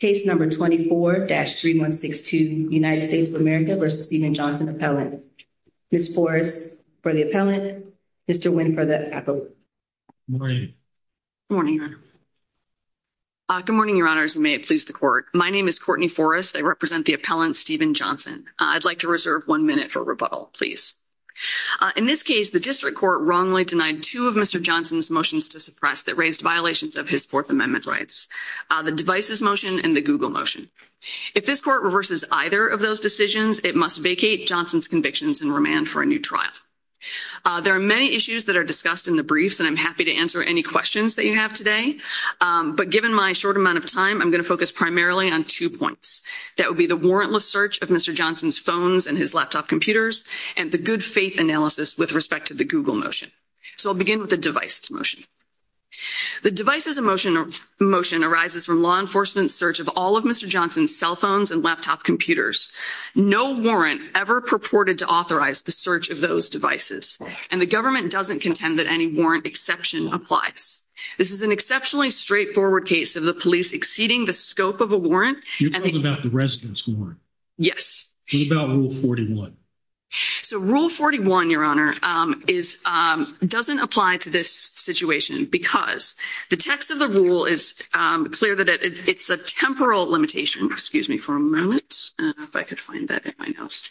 Case No. 24-3162, United States of America v. Stephen Johnson Appellant. Ms. Forrest for the Appellant, Mr. Winn for the Appellant. Good morning, Your Honors. Good morning, Your Honors, and may it please the Court. My name is Courtney Forrest. I represent the Appellant, Stephen Johnson. I'd like to reserve one minute for rebuttal, please. In this case, the District Court wrongly denied two of Mr. Johnson's motions to suppress that raised violations of his Fourth Amendment rights. The Devices motion and the Google motion. If this Court reverses either of those decisions, it must vacate Johnson's convictions and remand for a new trial. There are many issues that are discussed in the briefs, and I'm happy to answer any questions that you have today. But given my short amount of time, I'm going to focus primarily on two points. That would be the warrantless search of Mr. Johnson's phones and his laptop computers, and the good-faith analysis with respect to the Google motion. So I'll begin with the Devices motion. The Devices motion arises from law enforcement's search of all of Mr. Johnson's cell phones and laptop computers. No warrant ever purported to authorize the search of those devices, and the government doesn't contend that any warrant exception applies. This is an exceptionally straightforward case of the police exceeding the scope of a warrant. You're talking about the residence warrant. Yes. What about Rule 41? So Rule 41, Your Honor, is-doesn't apply to this situation because the text of the rule is clear that it's a temporal limitation-excuse me for a moment, if I could find that in my notes.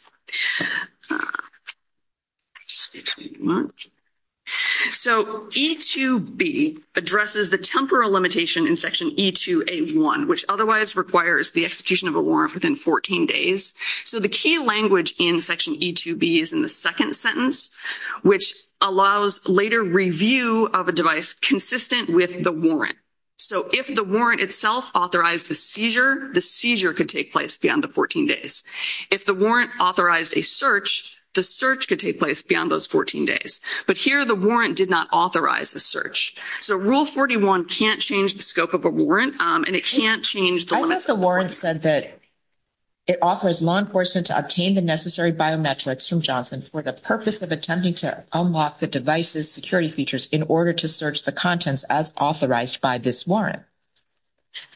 So, E2B addresses the temporal limitation in Section E2A1, which otherwise requires the execution of a warrant within 14 days. So the key language in Section E2B is in the second sentence, which allows later review of a device consistent with the warrant. So if the warrant itself authorized the seizure, the seizure could take place beyond the 14 days. If the warrant authorized a search, the search could take place beyond those 14 days. But here, the warrant did not authorize the search. So Rule 41 can't change the scope of a warrant, and it can't change the limitation. What if the warrant said that it offers law enforcement to obtain the necessary biometrics from Johnson for the purpose of attempting to unlock the device's security features in order to search the contents as authorized by this warrant?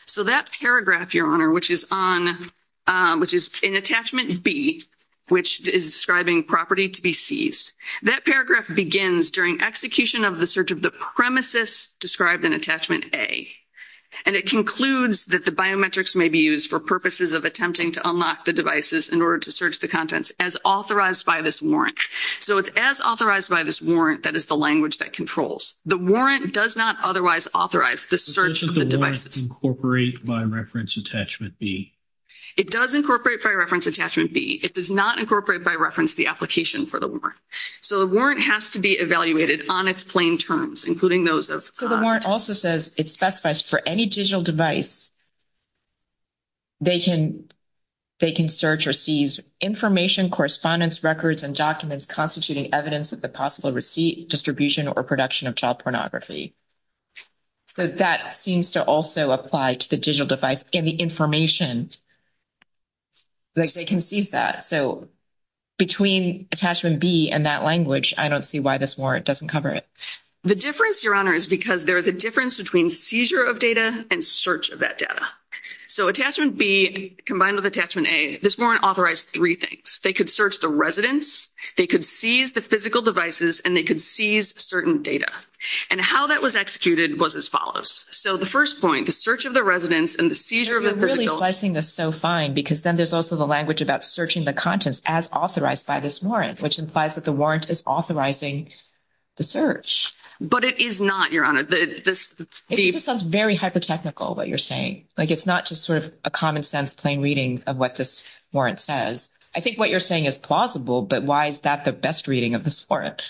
So that paragraph, Your Honor, which is on-which is in Attachment B, which is describing property to be seized, that paragraph begins during execution of the search of the premises described in Attachment A. And it concludes that the biometrics may be used for purposes of attempting to unlock the devices in order to search the contents as authorized by this warrant. So it's as authorized by this warrant that is the language that controls. The warrant does not otherwise authorize the search of the devices. Does the warrant incorporate by reference Attachment B? It does incorporate by reference Attachment B. It does not incorporate by reference the application for the warrant. So the warrant has to be evaluated on its plain terms, including those of- So the warrant also says it specifies for any digital device, they can-they can search or seize information, correspondence, records, and documents constituting evidence of the possible receipt, distribution, or production of child pornography. So that seems to also apply to the digital device and the information. Like, they can seize that. So between Attachment B and that language, I don't see why this warrant doesn't cover it. The difference, Your Honor, is because there is a difference between seizure of data and search of that data. So Attachment B combined with Attachment A, this warrant authorized three things. They could search the residence, they could seize the physical devices, and they could seize certain data. And how that was executed was as follows. So the first point, the search of the residence and the seizure of the physical- You're really slicing this so fine because then there's also the language about searching the contents as authorized by this warrant, which implies that the warrant is authorizing the search. But it is not, Your Honor. It just sounds very hypothetical, what you're saying. Like, it's not just sort of a common-sense, plain reading of what this warrant says. I think what you're saying is plausible, but why is that the best reading of this warrant?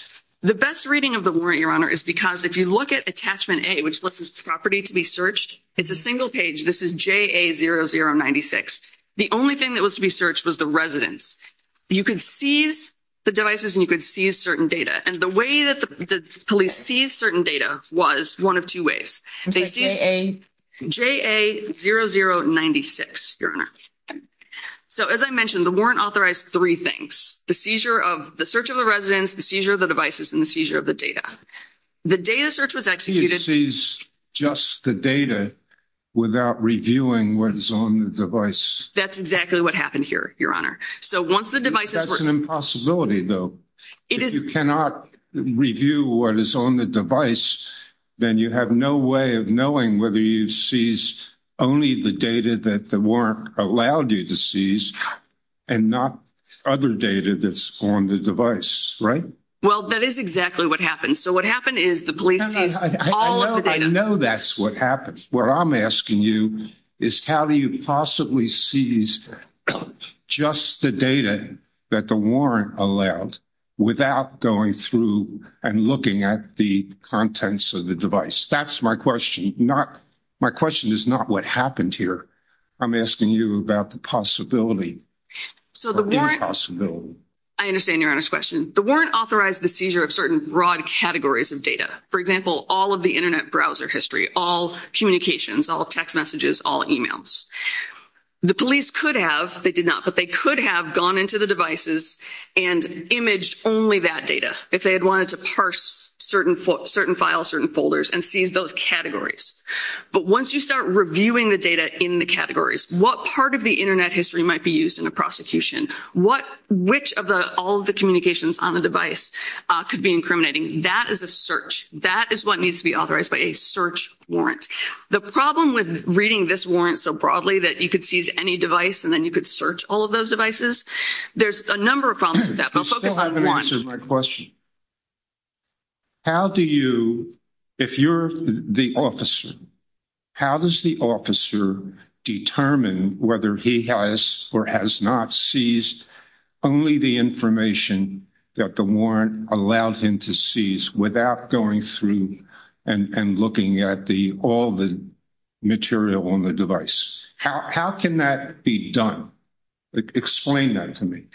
The best reading of the warrant, Your Honor, is because if you look at Attachment A, which lets this property to be searched, it's a single page. This is JA0096. The only thing that was to be searched was the residence. You could seize the devices and you could seize certain data. And the way that the police seized certain data was one of two ways. They seized- JA0096, Your Honor. So as I mentioned, the warrant authorized three things. The seizure of the search of the residence, the seizure of the devices, and the seizure of the data. The data search was executed- You seized just the data without revealing what is on the device. That's exactly what happened here, Your Honor. So once the device- That's an impossibility, though. If you cannot review what is on the device, then you have no way of knowing whether you seized only the data that the warrant allowed you to seize and not other data that's on the device, right? Well, that is exactly what happened. So what happened is the police seized all of the data- I know that's what happened. What I'm asking you is how do you possibly seize just the data that the warrant allowed without going through and looking at the contents of the device? That's my question. My question is not what happened here. I'm asking you about the possibility. So the warrant- Or the impossibility. I understand, Your Honor's question. The warrant authorized the seizure of certain broad categories of data. For example, all of the internet browser history, all communications, all text messages, all emails. The police could have. They did not. But they could have gone into the devices and imaged only that data if they had wanted to parse certain files, certain folders, and seize those categories. But once you start reviewing the data in the categories, what part of the internet history might be used in a prosecution? Which of all of the communications on the device could be incriminating? That is a search. That is what needs to be authorized by a search warrant. The problem with reading this warrant so broadly that you could seize any device and then you could search all of those devices, there's a number of problems with that. But focus on- I still haven't answered my question. How do you, if you're the officer, how does the officer determine whether he has or has not seized only the information that the warrant allows him to seize without going through and looking at all the material on the device? How can that be done? Explain that to me.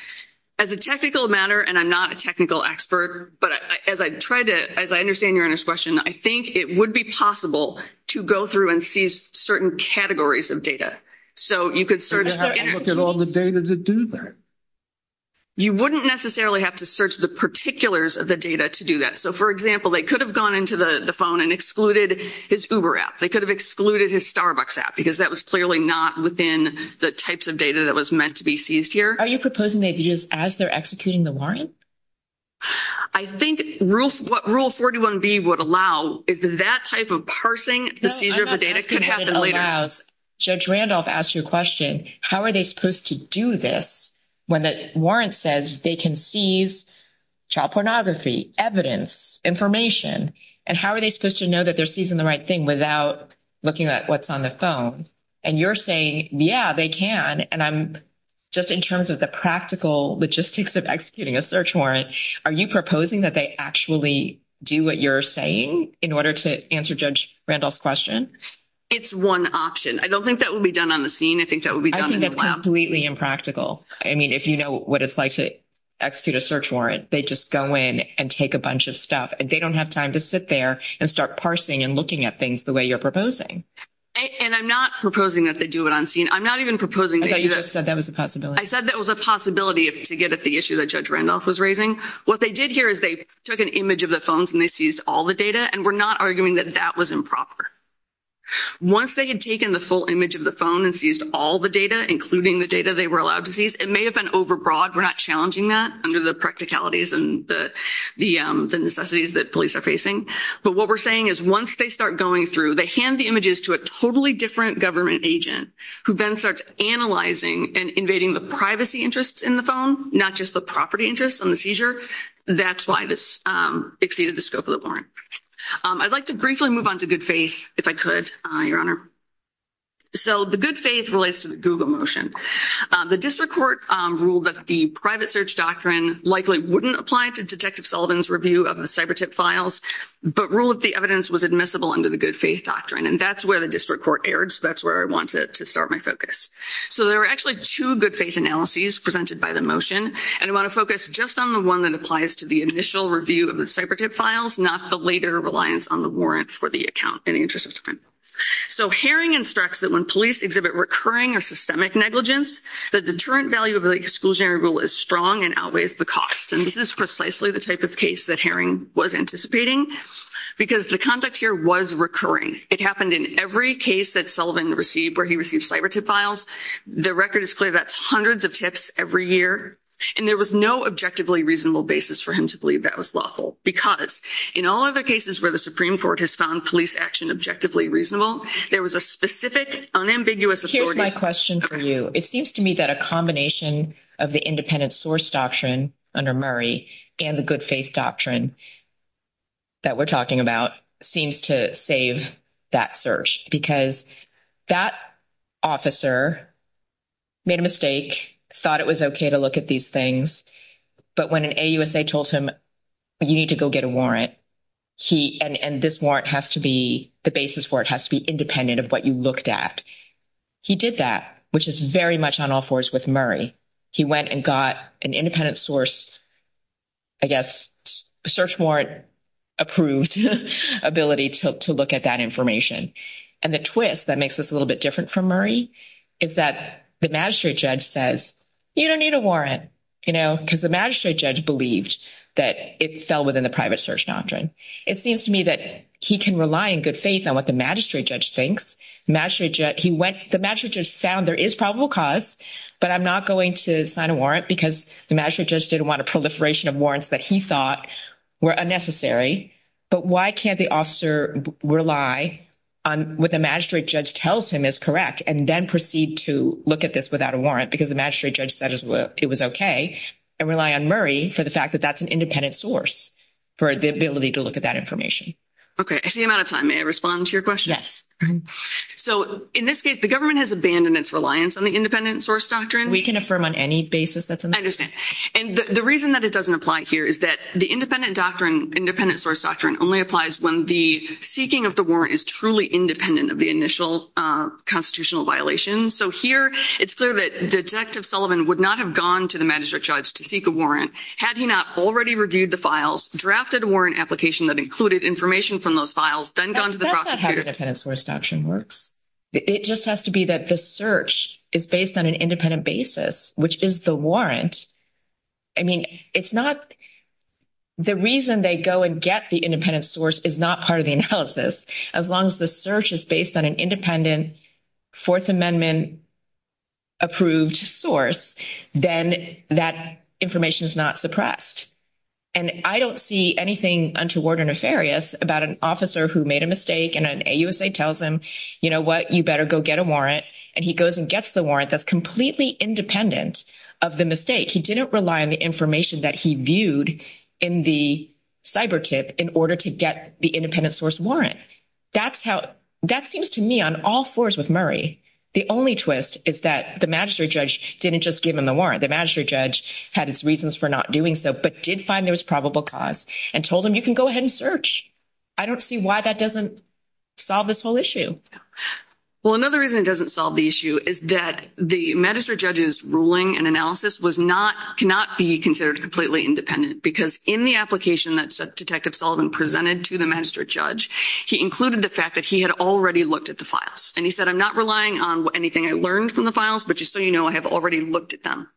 As a technical matter, and I'm not a technical expert, but as I try to, as I understand your honest question, I think it would be possible to go through and seize certain categories of data. So you could search- But you have to look at all the data to do that. You wouldn't necessarily have to search the particulars of the data to do that. So, for example, they could have gone into the phone and excluded his Uber app. They could have excluded his Starbucks app because that was clearly not within the types of data that was meant to be seized here. Are you proposing they'd use as they're executing the warrant? I think what Rule 41B would allow is that type of parsing the seizure of the data could happen later. If you have, Judge Randolph asked you a question, how are they supposed to do this when the warrant says they can seize child pornography, evidence, information? And how are they supposed to know that they're seizing the right thing without looking at what's on the phone? And you're saying, yeah, they can. And I'm just in terms of the practical logistics of executing a search warrant, are you proposing that they actually do what you're saying in order to answer Judge Randolph's question? It's one option. I don't think that would be done on the scene. I think that would be done in the lab. I think that's completely impractical. I mean, if you know what it's like to execute a search warrant, they just go in and take a bunch of stuff. And they don't have time to sit there and start parsing and looking at things the way you're proposing. And I'm not proposing that they do it on scene. I'm not even proposing that. I thought you just said that was a possibility. I said that was a possibility to get at the issue that Judge Randolph was raising. What they did here is they took an image of the phones and they seized all the data. And we're not arguing that that was improper. Once they had taken the full image of the phone and seized all the data, including the data they were allowed to seize, it may have been overbroad. We're not challenging that under the practicalities and the necessities that police are facing. But what we're saying is once they start going through, they hand the images to a totally different government agent who then starts analyzing and invading the privacy interests in the phone, not just the property interests and the seizure. That's why this exceeded the scope of the warrant. I'd like to briefly move on to good faith, if I could, Your Honor. So the good faith relates to the Google motion. The district court ruled that the private search doctrine likely wouldn't apply to Detective Sullivan's review of the cyber tip files, but ruled the evidence was admissible under the good faith doctrine. And that's where the district court erred. So that's where I wanted to start my focus. So there are actually two good faith analyses presented by the motion. And I want to focus just on the one that applies to the initial review of the cyber tip files, not the later reliance on the warrant for the account in the interest of the criminal. So Haring instructs that when police exhibit recurring or systemic negligence, the deterrent value of the exclusionary rule is strong and outweighs the cost. And this is precisely the type of case that Haring was anticipating because the conduct here was recurring. It happened in every case that Sullivan received where he received cyber tip files. The record is clear that's hundreds of tips every year. And there was no objectively reasonable basis for him to believe that was lawful because in all other cases where the Supreme Court has found police action objectively reasonable, there was a specific unambiguous authority. Here's my question for you. It seems to me that a combination of the independent source doctrine under Murray and the good faith doctrine that we're talking about seems to save that search. Because that officer made a mistake, thought it was okay to look at these things. But when an AUSA told him, you need to go get a warrant, and this warrant has to be, the basis for it has to be independent of what you looked at, he did that, which is very much on all fours with Murray. He went and got an independent source, I guess, search warrant approved ability to look at that information. And the twist that makes this a little bit different from Murray is that the magistrate judge says, you don't need a warrant, you know, because the magistrate judge believed that it fell within the private search doctrine. It seems to me that he can rely in good faith on what the magistrate judge thinks. The magistrate judge found there is probable cause, but I'm not going to sign a warrant because the magistrate judge didn't want a proliferation of warrants that he thought were unnecessary. But why can't the officer rely on what the magistrate judge tells him is correct and then proceed to look at this without a warrant because the magistrate judge said it was okay and rely on Murray for the fact that that's an independent source for the ability to look at that information? Okay. I see I'm out of time. May I respond to your question? Yes. So in this case, the government has abandoned its reliance on the independent source doctrine. We can affirm on any basis that's a matter. I understand. And the reason that it doesn't apply here is that the independent source doctrine only applies when the seeking of the warrant is truly independent of the initial constitutional violation. So here it's clear that Detective Sullivan would not have gone to the magistrate judge to seek a warrant had he not already reviewed the files, drafted a warrant application that included information from those files, then gone to the prosecutor. That's not how the independent source doctrine works. It just has to be that the search is based on an independent basis, which is the warrant. I mean, it's not the reason they go and get the independent source is not part of the search is based on an independent Fourth Amendment-approved source, then that information is not suppressed. And I don't see anything untoward or nefarious about an officer who made a mistake and an AUSA tells him, you know what, you better go get a warrant, and he goes and gets the warrant that's completely independent of the mistake. He didn't rely on the information that he viewed in the cyber tip in order to get the independent source warrant. That seems to me on all fours with Murray. The only twist is that the magistrate judge didn't just give him a warrant. The magistrate judge had his reasons for not doing so, but did find there was probable cause and told him, you can go ahead and search. I don't see why that doesn't solve this whole issue. Well, another reason it doesn't solve the issue is that the magistrate judge's ruling and analysis cannot be considered completely independent because in the application that Detective Sullivan presented to the magistrate judge, he included the fact that he had already looked at the files. And he said, I'm not relying on anything I learned from the files, but just so you know, I have already looked at them.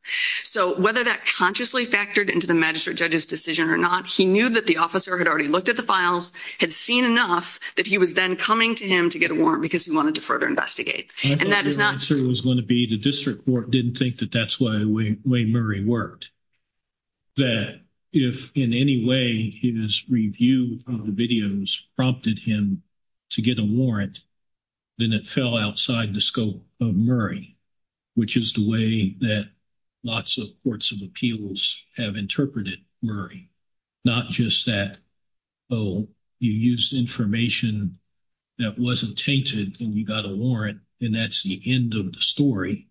So whether that consciously factored into the magistrate judge's decision or not, he knew that the officer had already looked at the files, had seen enough, that he was then coming to him to get a warrant because he wanted to further investigate. And that is not- The answer was going to be the district court didn't think that that's the way Murray worked. That if in any way his review of the videos prompted him to get a warrant, then it fell outside the scope of Murray, which is the way that lots of courts of appeals have interpreted Murray. Not just that, oh, you used information that wasn't tainted and we got a warrant and that's the end of the story.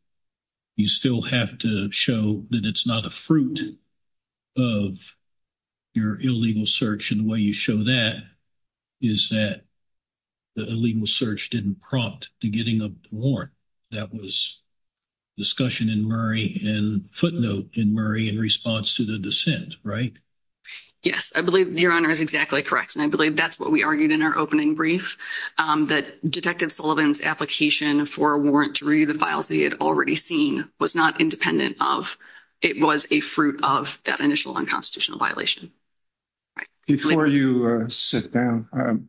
You still have to show that it's not a fruit of your illegal search. And the way you show that is that the illegal search didn't prompt to getting a warrant. That was discussion in Murray and footnote in Murray in response to the dissent, right? Yes, I believe your honor is exactly correct. And I believe that's what we argued in our opening brief. That detective Sullivan's application for a warrant to review the files he had already seen was not independent of, it was a fruit of that initial unconstitutional violation. Before you sit down,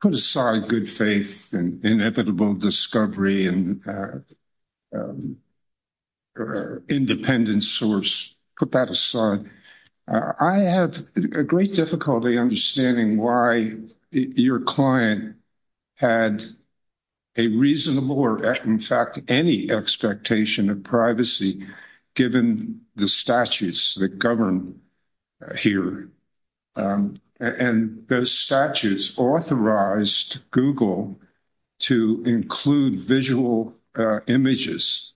put aside good faith and inevitable discovery and independent source, put that aside. I have a great difficulty understanding why your client had a reasonable or in fact any expectation of privacy given the statutes that govern here. And the statutes authorized Google to include visual images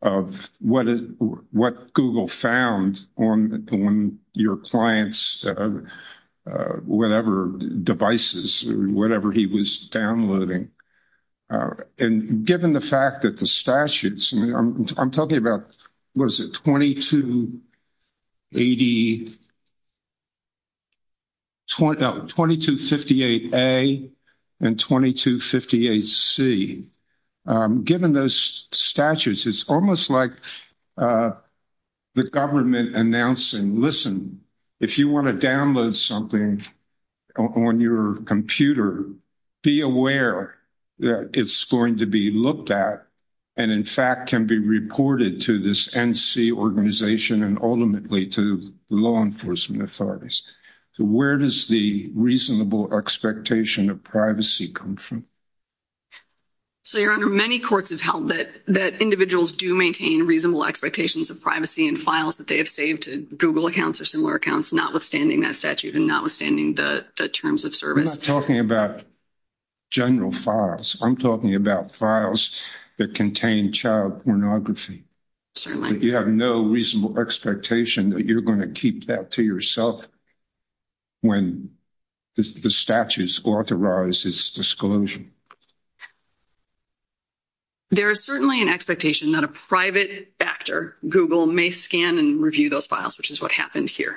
of what Google found on your client's whatever devices or whatever he was downloading. And given the fact that the statutes, I'm talking about, was it 2280, 2258A and 2258C. Given those statutes, it's almost like the government announcing, listen, if you want to download something on your computer, be aware that it's going to be looked at and in fact can be reported to this NC organization and ultimately to law enforcement authorities. So where does the reasonable expectation of privacy come from? So your honor, many courts have held that individuals do maintain reasonable expectations of privacy in files that they have saved to Google accounts or similar accounts, not withstanding that statute and not withstanding the terms of service. I'm not talking about general files. I'm talking about files that contain child pornography. You have no reasonable expectation that you're going to keep that to yourself when the statutes authorize its disclosure. There is certainly an expectation that a private actor, Google, may scan and review those files, which is what happened here.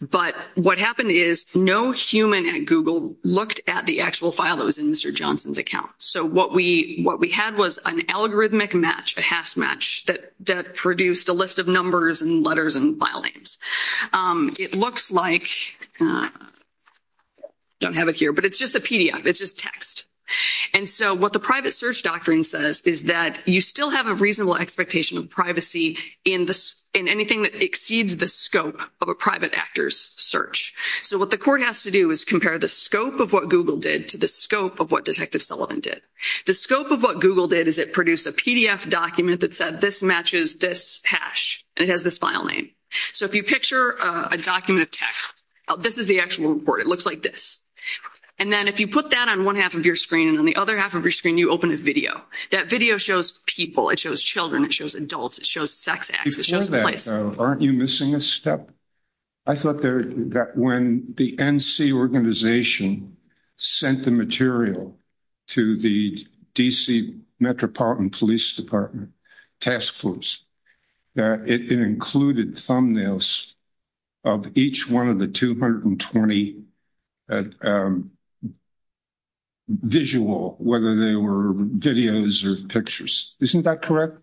But what happened is no human at Google looked at the actual file that was in Mr. Johnson's account. So what we had was an algorithmic match, a hash match, that produced a list of numbers and letters and file names. It looks like, I don't have it here, but it's just a PDF. It's just text. And so what the private search doctrine says is that you still have a reasonable expectation of privacy in anything that exceeds the scope of a private actor's search. So what the court has to do is compare the scope of what Google did to the scope of what Detective Sullivan did. The scope of what Google did is it produced a PDF document that said this matches this hash. It has this file name. So if you picture a document of text, this is the actual report. It looks like this. And then if you put that on one half of your screen and on the other half of your screen, you open a video. That video shows people. It shows children. It shows adults. It shows sex acts. It shows a place. You know that, though. Aren't you missing a step? I thought that when the NC organization sent the material to the D.C. Metropolitan Police Department task force, it included thumbnails of each one of the 220 visual, whether they were videos or pictures. Isn't that correct?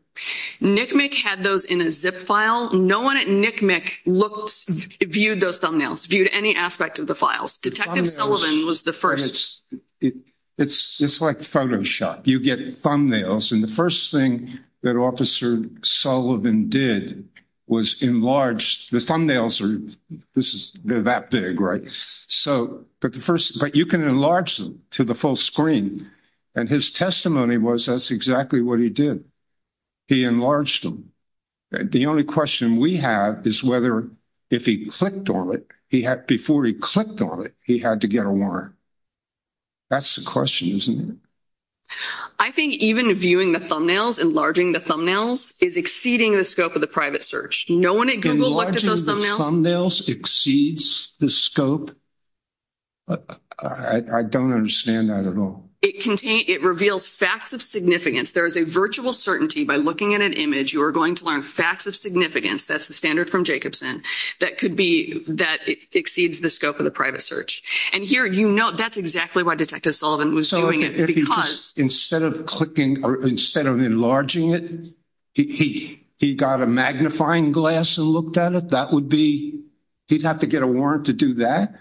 Nick Mick had those in a zip file. No one at Nick Mick viewed those thumbnails, viewed any aspect of the files. Detective Sullivan was the first. It's like Photoshop. You get thumbnails. And the first thing that Officer Sullivan did was enlarge the thumbnails. They're that big, right? But you can enlarge them to the full screen. And his testimony was that's exactly what he did. He enlarged them. The only question we have is whether if he clicked on it, before he clicked on it, he had to get a warrant. That's the question, isn't it? I think even viewing the thumbnails, enlarging the thumbnails, is exceeding the scope of the private search. No one at Google looked at the thumbnails. Enlarging the thumbnails exceeds the scope? I don't understand that at all. It reveals facts of significance. There is a virtual certainty by looking at an image, you are going to learn facts of significance, that's the standard from Jacobson, that could be, that exceeds the scope of the private search. And here, you know, that's exactly why Detective Sullivan was doing it. So if he just, instead of clicking or instead of enlarging it, he got a magnifying glass and looked at it, that would be, he'd have to get a warrant to do that?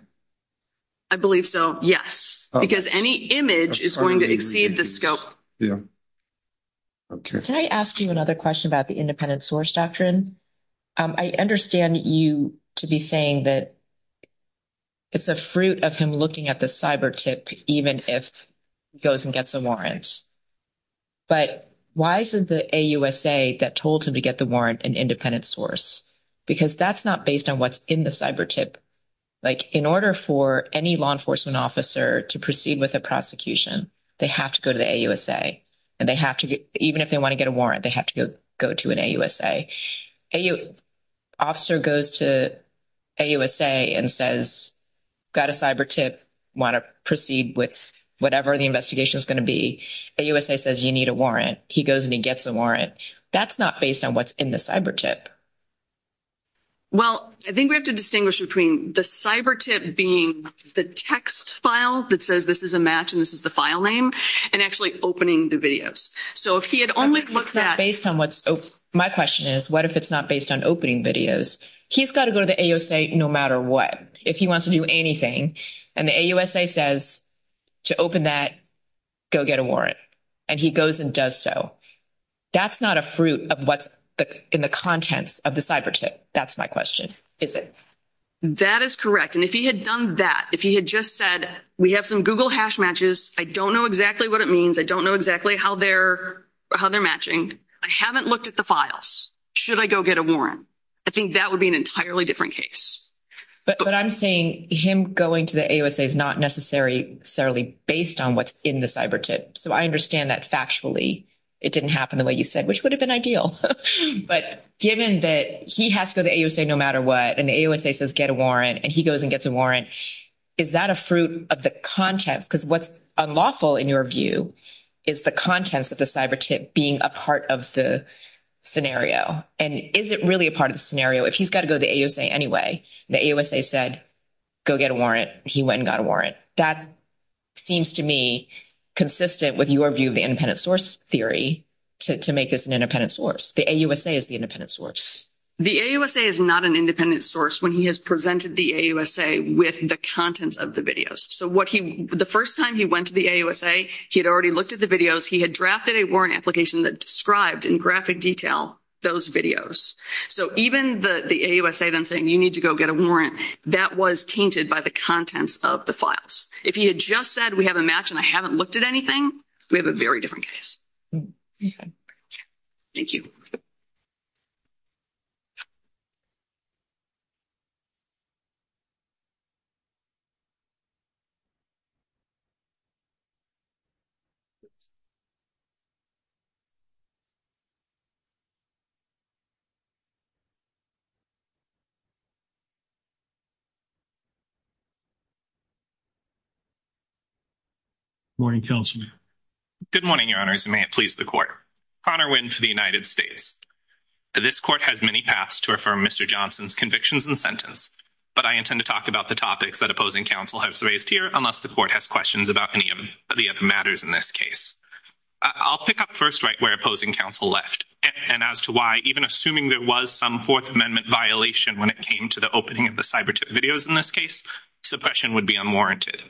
I believe so, yes. Because any image is going to exceed the scope. Yeah. Okay. Can I ask you another question about the independent source doctrine? I understand you to be saying that it's a fruit of him looking at the cyber tip, even if he goes and gets a warrant. But why is it the AUSA that told him to get the warrant, an independent source? Because that's not based on what's in the cyber tip. Like, in order for any law enforcement officer to proceed with a prosecution, they have to go to the AUSA. And they have to get, even if they want to get a warrant, they have to go to an AUSA. An officer goes to AUSA and says, got a cyber tip, want to proceed with whatever the investigation is going to be. AUSA says, you need a warrant. He goes and he gets a warrant. That's not based on what's in the cyber tip. Well, I think we have to distinguish between the cyber tip being the text file that says this is a match and this is the file name, and actually opening the videos. So if he had only looked at... My question is, what if it's not based on opening videos? He's got to go to the AUSA no matter what, if he wants to do anything. And the AUSA says, to open that, go get a warrant. And he goes and does so. That's not a fruit of what's in the contents of the cyber tip. That's my question. Is it? That is correct. And if he had done that, if he had just said, we have some Google hash matches. I don't know exactly what it means. I don't know exactly how they're matching. I haven't looked at the files. Should I go get a warrant? I think that would be an entirely different case. But I'm saying him going to the AUSA is not necessarily based on what's in the cyber tip. So I understand that factually it didn't happen the way you said, which would have been ideal. But given that he has to go to AUSA no matter what, and the AUSA says get a warrant, and he goes and gets a warrant, is that a fruit of the content? Because what's unlawful in your view is the contents of the cyber tip being a part of the scenario. And is it really a part of the scenario? If he's got to go to AUSA anyway, the AUSA said, go get a warrant. He went and got a warrant. That seems to me consistent with your view of independent source theory to make this an independent source. The AUSA is the independent source. The AUSA is not an independent source when he has presented the AUSA with the contents of the videos. So the first time he went to the AUSA, he had already looked at the videos. He had drafted a warrant application that described in graphic detail those videos. So even the AUSA then saying you need to go get a warrant, that was tainted by the contents of the files. If he had just said we have a match and I haven't looked at anything, we have a very different case. Thank you. Morning, Kelsey. Good morning, Your Honors, and may it please the Court. Connor Winn for the United States. This Court has many paths to affirm Mr. Johnson's convictions and sentence, but I intend to talk about the topics that opposing counsel has raised here unless the Court has questions about any of the other matters in this case. I'll pick up first right where opposing counsel left, and as to why even assuming there was some Fourth Amendment violation when it came to the opening of the cyber tip videos in this case, suppression would be unwarranted.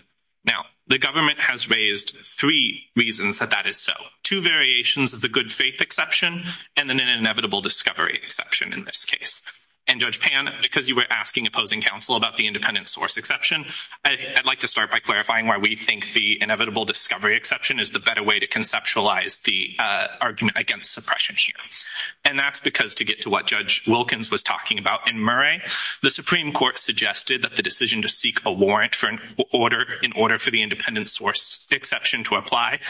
Now, the government has raised three reasons that that is so, two variations of the good faith exception, and then an inevitable discovery exception in this case. And Judge Pan, because you were asking opposing counsel about the independent source exception, I'd like to start by clarifying why we think the inevitable discovery exception is the better way to conceptualize the argument against suppression here. And that's because to get to what Judge Wilkins was talking about in Murray, the Supreme Court suggested that the decision to seek a warrant in order for the independent source exception to apply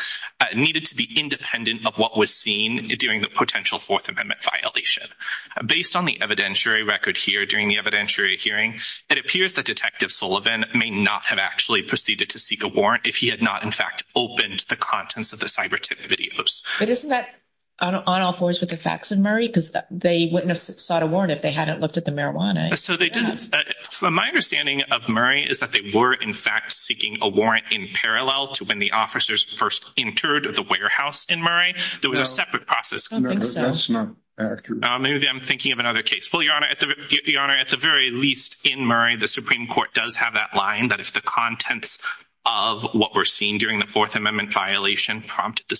needed to be independent of what was seen during the potential Fourth Amendment violation. Based on the evidentiary record here during the evidentiary hearing, it appears that Detective Sullivan may not have actually proceeded to seek a warrant if he had not, in fact, opened the contents of the cyber tip videos. Isn't that on all fours with the facts in Murray? Because they wouldn't have sought a warrant if they hadn't looked at the marijuana. My understanding of Murray is that they were, in fact, seeking a warrant in parallel to when the officers first entered the warehouse in Murray. There was a separate process. That's not accurate. Maybe I'm thinking of another case. Well, Your Honor, at the very least, in Murray, the Supreme Court does have that line that if the contents of what we're seeing during the Fourth Amendment violation prompted the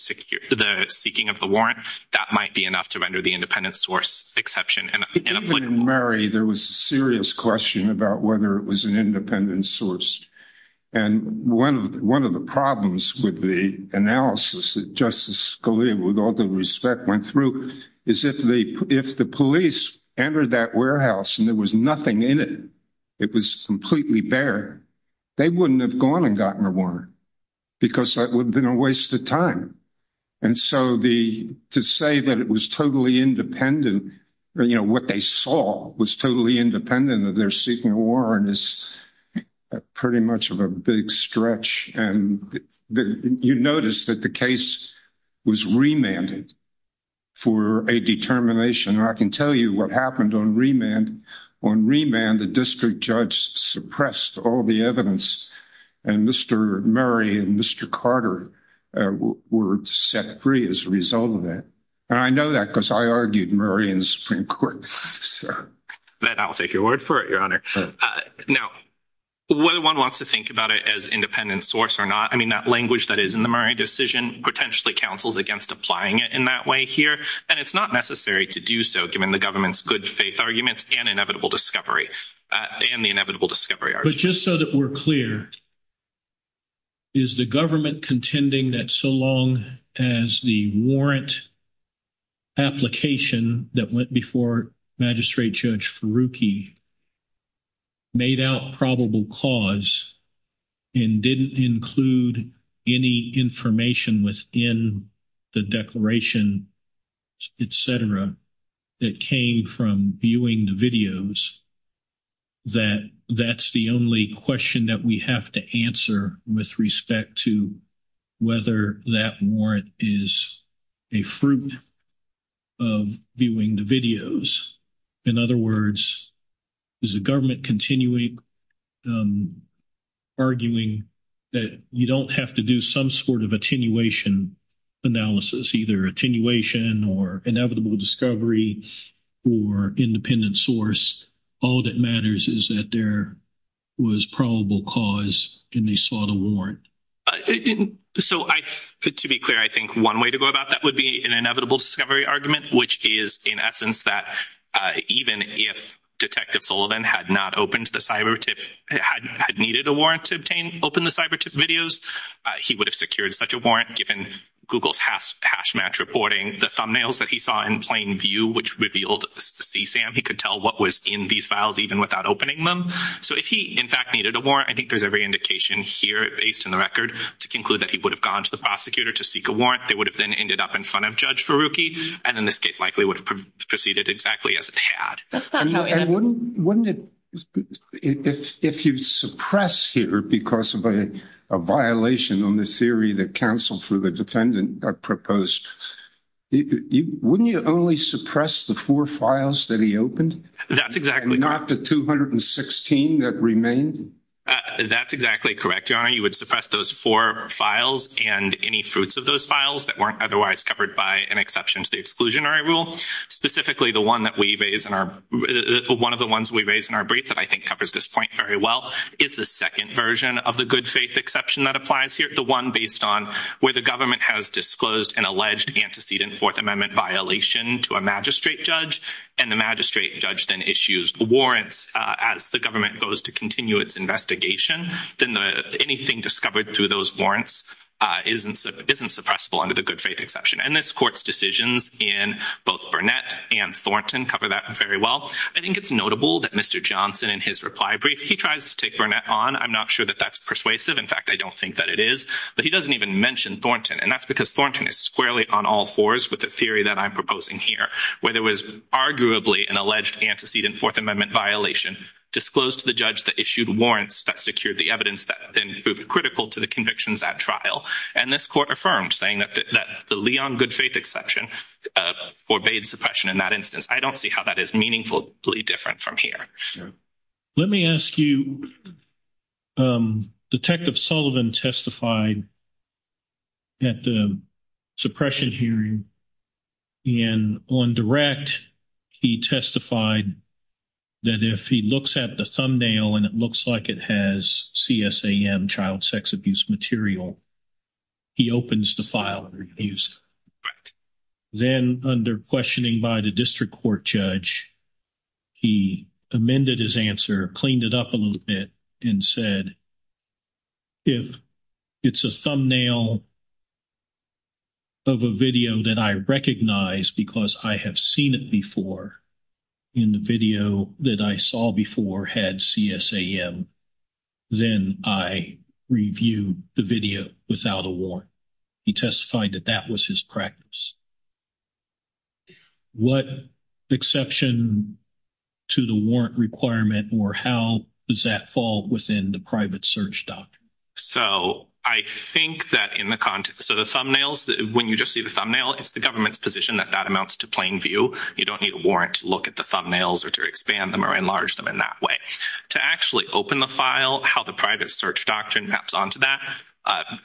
seeking of the warrant, that might be enough to render the independent source exception. In Murray, there was a serious question about whether it was an independent source. And one of the problems with the analysis that Justice Scalia, with all due respect, went through is if the police entered that warehouse and there was nothing in it, it was completely bare, they wouldn't have gone and gotten a warrant because that would have been a waste of time. And so to say that it was totally independent, you know, what they saw was totally independent of their seeking a warrant is pretty much of a big stretch. And you notice that the case was remanded for a determination. And I can tell you what happened on remand. On remand, the district judge suppressed all the evidence, and Mr. Murray and Mr. Carter were set free as a result of that. And I know that because I argued Murray in the Supreme Court. And I'll take your word for it, Your Honor. Now, whether one wants to think about it as independent source or not, I mean, that language that is in the Murray decision potentially counsels against applying it in that way here. And it's not necessary to do so given the government's good faith arguments and the inevitable discovery argument. But just so that we're clear, is the government contending that so long as the warrant application that went before Magistrate Judge Faruqi made out probable cause and didn't include any information within the declaration, et cetera, that came from viewing the videos, that that's the only question that we have to answer with respect to whether that warrant is a fruit of viewing the videos? In other words, is the government arguing that you don't have to do some sort of attenuation analysis, either attenuation or inevitable discovery or independent source? All that matters is that there was probable cause and they saw the warrant. So to be clear, I think one way to go about that would be an inevitable discovery argument, which is, in essence, that even if Detective Sullivan had not opened the cyber tip, had needed a warrant to open the cyber tip videos, he would have secured such a warrant given Google's hash match reporting, the thumbnails that he saw in plain view, which revealed CSAM. He could tell what was in these files even without opening them. So if he, in fact, needed a warrant, I think there's every indication here based on the record to conclude that he would have gone to the prosecutor to seek a warrant. They would have then ended up in front of Judge Farooqui, and in this case, likely would have proceeded exactly as it had. If you suppress here because of a violation on the theory that counsel for the defendant proposed, wouldn't you only suppress the four files that he opened? That's exactly correct. And not the 216 that remained? That's exactly correct, Your Honor. You would suppress those four files and any fruits of those files that weren't otherwise covered by an exception to the exclusionary rule. Specifically, one of the ones we raised in our brief that I think covers this point very well is the second version of the good faith exception that applies here, the one based on where the government has disclosed an alleged antecedent Fourth Amendment violation to a magistrate judge, and the magistrate judge then issues warrants as the government goes to continue its investigation. Then anything discovered through those warrants isn't suppressible under the good faith exception. And this court's decisions in both Burnett and Thornton cover that very well. I think it's notable that Mr. Johnson, in his reply brief, he tries to take Burnett on. I'm not sure that that's persuasive. In fact, I don't think that it is. But he doesn't even mention Thornton, and that's because Thornton is squarely on all fours with the theory that I'm proposing here, where there was arguably an alleged antecedent Fourth Amendment violation disclosed to the judge that issued warrants that secured the evidence that then proved critical to the convictions at trial. And this court affirms saying that the Leon good faith exception forbade suppression in that instance. I don't see how that is meaningfully different from here. Let me ask you, Detective Sullivan testified at the suppression hearing, and on direct, he testified that if he looks at the thumbnail and it looks like it has CSAM, child sex abuse material, he opens the file and reviews it. Then under questioning by the district court judge, he amended his answer, cleaned it up a little bit, and said, if it's a thumbnail of a video that I recognize because I have seen it before in the video that I saw before had CSAM, then I review the video without a warrant. He testified that that was his practice. What exception to the warrant requirement or how does that fall within the private search doctrine? So I think that in the context of the thumbnails, when you just see the thumbnail, it's the government's position that that amounts to plain view. You don't need a warrant to look at the thumbnails or to expand them or enlarge them in that way. To actually open the file, how the private search doctrine maps onto that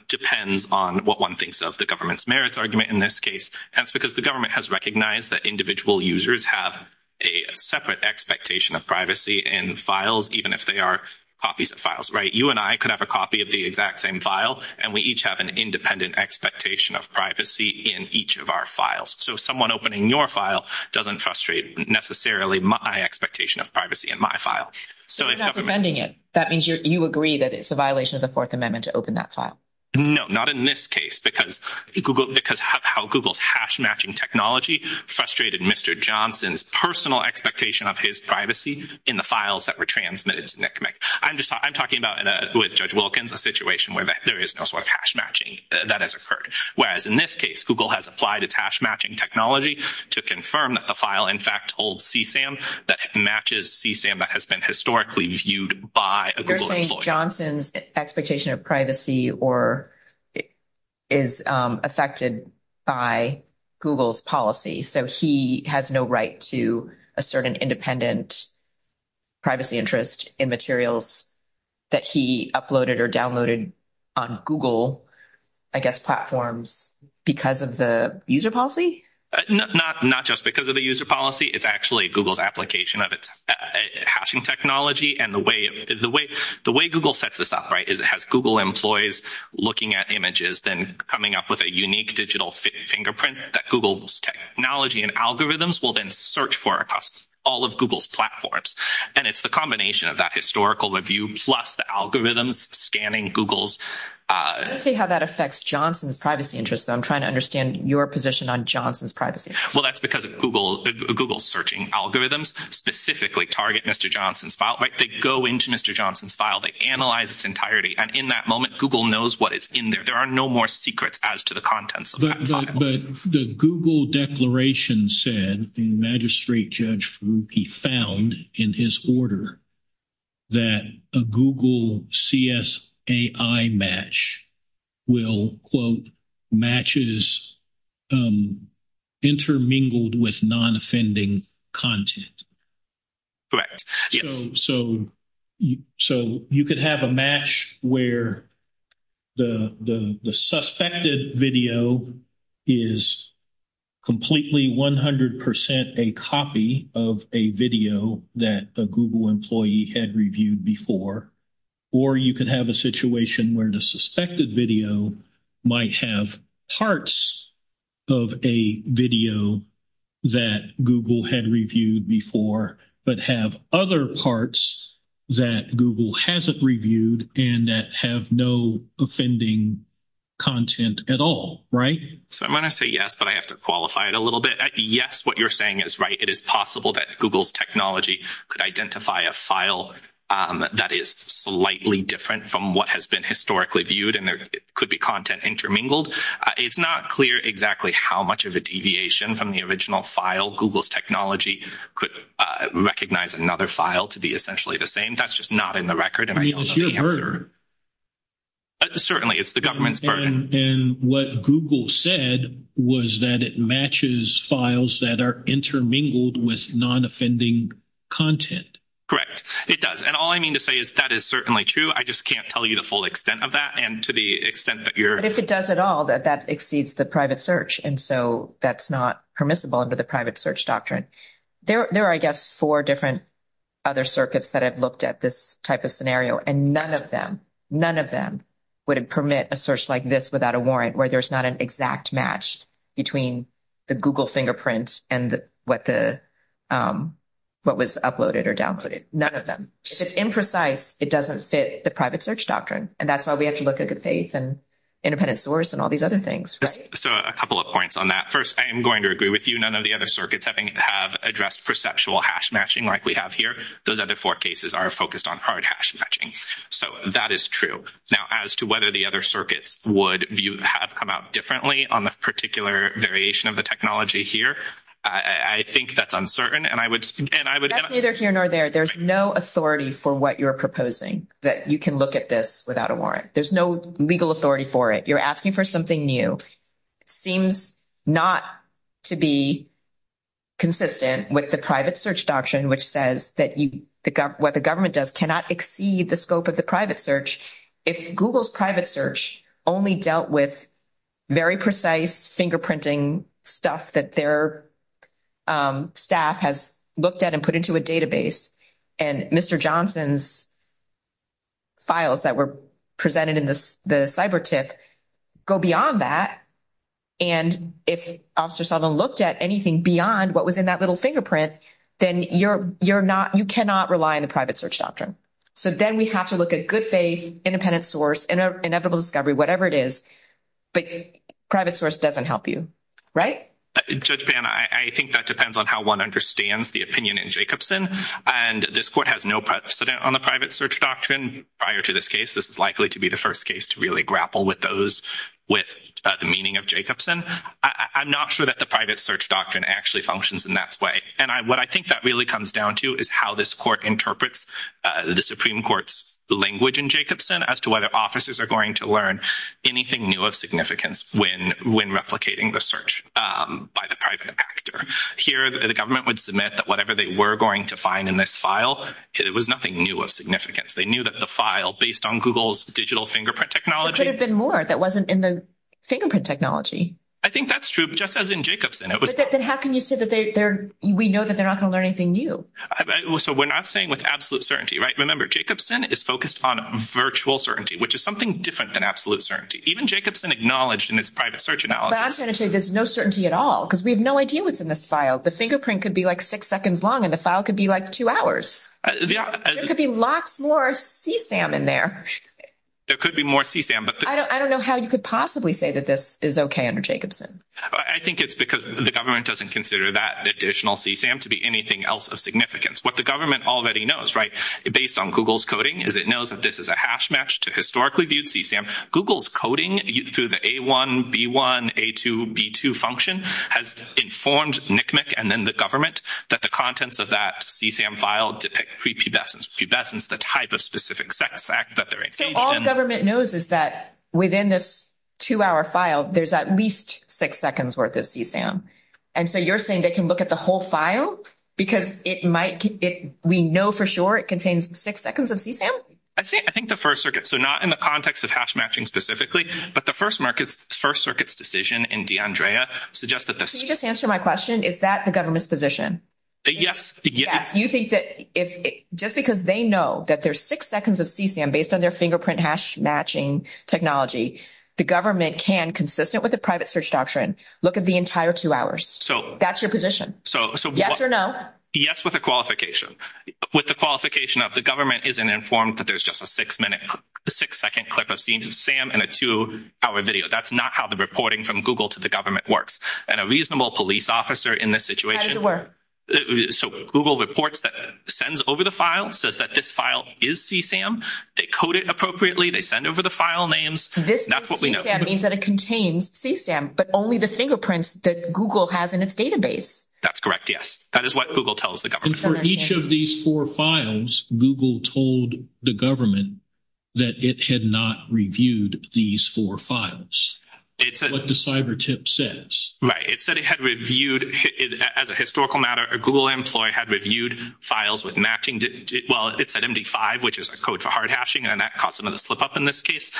depends on what one thinks of the government's merits argument in this case. That's because the government has recognized that individual users have a separate expectation of privacy in files, even if they are copies of files, right? You and I could have a copy of the exact same file, and we each have an independent expectation of privacy in each of our files. So someone opening your file doesn't frustrate necessarily my expectation of privacy in my file. So you're not defending it. That means you agree that it's a violation of the Fourth Amendment to open that file. No, not in this case because how Google's hash matching technology frustrated Mr. Johnson's personal expectation of his privacy in the files that were transmitted. I'm talking about Judge Wilkins, a situation where there is no sort of hash matching that has occurred. Whereas in this case, Google has applied its hash matching technology to confirm that the file, in fact, holds CSAM that matches CSAM that has been historically viewed by a Google employee. You're saying Johnson's expectation of privacy is affected by Google's policy. So he has no right to a certain independent privacy interest in materials that he uploaded or downloaded on Google, I guess, platforms because of the user policy? Not just because of the user policy. It's actually Google's application of its hashing technology. And the way Google sets this up, right, is it has Google employees looking at images, then coming up with a unique digital fingerprint that Google's technology and algorithms will then search for across all of Google's platforms. And it's the combination of that historical review plus the algorithms scanning Google's... Let's see how that affects Johnson's privacy interest. I'm trying to understand your position on Johnson's privacy. Well, that's because Google's searching algorithms specifically target Mr. Johnson's file. They go into Mr. Johnson's file. They analyze its entirety. And in that moment, Google knows what is in there. There are no more secrets as to the contents of that file. But the Google declaration said, and Magistrate Judge Farooqui found in his order, that a Google CSAI match will, quote, matches intermingled with non-offending content. Correct. So you could have a match where the suspected video is completely 100% a copy of a video that the Google employee had reviewed before. Or you could have a situation where the suspected video might have parts of a video that Google had reviewed before but have other parts that Google hasn't reviewed and that have no offending content at all, right? So I'm going to say yes, but I have to qualify it a little bit. Yes, what you're saying is right. It is possible that Google's technology could identify a file that is slightly different from what has been historically viewed, and there could be content intermingled. It's not clear exactly how much of a deviation from the original file. Google's technology could recognize another file to be essentially the same. That's just not in the record. I mean, it's your order. Certainly. It's the government's version. And what Google said was that it matches files that are intermingled with non-offending content. Correct. It does. And all I mean to say is that is certainly true. I just can't tell you the full extent of that and to the extent that you're... But if it does at all, that exceeds the private search, and so that's not permissible under the private search doctrine. There are, I guess, four different other circuits that have looked at this type of scenario, and none of them, none of them would permit a search like this without a warrant where there's not an exact match between the Google fingerprint and what was uploaded or downloaded. None of them. If it's imprecise, it doesn't fit the private search doctrine, and that's why we have to look at the face and independent source and all these other things. So a couple of points on that. First, I am going to agree with you. None of the other circuits I think have addressed perceptual hash matching like we have here. Those other four cases are focused on hard hash matching. So that is true. Now, as to whether the other circuits would have come out differently on the particular variation of the technology here, I think that's uncertain, and I would... That's neither here nor there. There's no authority for what you're proposing, that you can look at this without a warrant. There's no legal authority for it. You're asking for something new. It seems not to be consistent with the private search doctrine, which says that what the government does cannot exceed the scope of the private search. If Google's private search only dealt with very precise fingerprinting stuff that their staff has looked at and put into a database, and Mr. Johnson's files that were presented in the cyber tip go beyond that, and if Officer Sullivan looked at anything beyond what was in that little fingerprint, then you cannot rely on the private search doctrine. So then we have to look at good faith, independent source, inevitable discovery, whatever it is, but private source doesn't help you, right? Judge Pan, I think that depends on how one understands the opinion in Jacobson, and this court has no precedent on the private search doctrine prior to this case. This is likely to be the first case to really grapple with those, with the meaning of Jacobson. I'm not sure that the private search doctrine actually functions in that way, and what I think that really comes down to is how this court interprets the Supreme Court's language in Jacobson as to whether officers are going to learn anything new of significance when replicating the search by the private actor. Here, the government would submit that whatever they were going to find in this file, it was nothing new of significance. They knew that the file, based on Google's digital fingerprint technology— There could have been more that wasn't in the fingerprint technology. I think that's true, just as in Jacobson. Then how can you say that we know that they're not going to learn anything new? So we're not saying with absolute certainty, right? Remember, Jacobson is focused on virtual certainty, which is something different than absolute certainty. Even Jacobson acknowledged in its private search analogy— But I'm trying to say there's no certainty at all, because we have no idea what's in this file. The fingerprint could be like six seconds long, and the file could be like two hours. There could be lots more CSAM in there. There could be more CSAM, but— I don't know how you could possibly say that this is okay under Jacobson. I think it's because the government doesn't consider that additional CSAM to be anything else of significance. What the government already knows, right, based on Google's coding, is it knows that this is a hash match to historically viewed CSAM. Google's coding through the A1, B1, A2, B2 function has informed NCMEC and then the government that the contents of that CSAM file depict prepubescence. Pubescence is the type of specific sex act that they're engaging in. All the government knows is that within this two-hour file, there's at least six seconds worth of CSAM. And so you're saying they can look at the whole file? Because it might—we know for sure it contains six seconds of CSAM? I think the First Circuit—so not in the context of hash matching specifically, but the First Circuit's decision in D'Andrea suggested that— Can you just answer my question? Is that the government's position? Yes. You think that just because they know that there's six seconds of CSAM based on their fingerprint hash matching technology, the government can, consistent with the private search doctrine, look at the entire two hours? That's your position? Yes or no? Yes with the qualification. With the qualification of the government isn't informed that there's just a six-second clip of CSAM in a two-hour video. That's not how the reporting from Google to the government works. And a reasonable police officer in this situation— How does it work? So Google reports that—sends over the file, says that this file is CSAM. They code it appropriately. They send over the file names. That's what we know. This CSAM means that it contains CSAM, but only the fingerprints that Google has in its database. That's correct, yes. That is what Google tells the government. And for each of these four files, Google told the government that it had not reviewed these four files, what the cyber tip says. Right. It said it had reviewed—as a historical matter, a Google employee had reviewed files with matching—well, it said MD5, which is a code for hard hashing, and that caused another slip-up in this case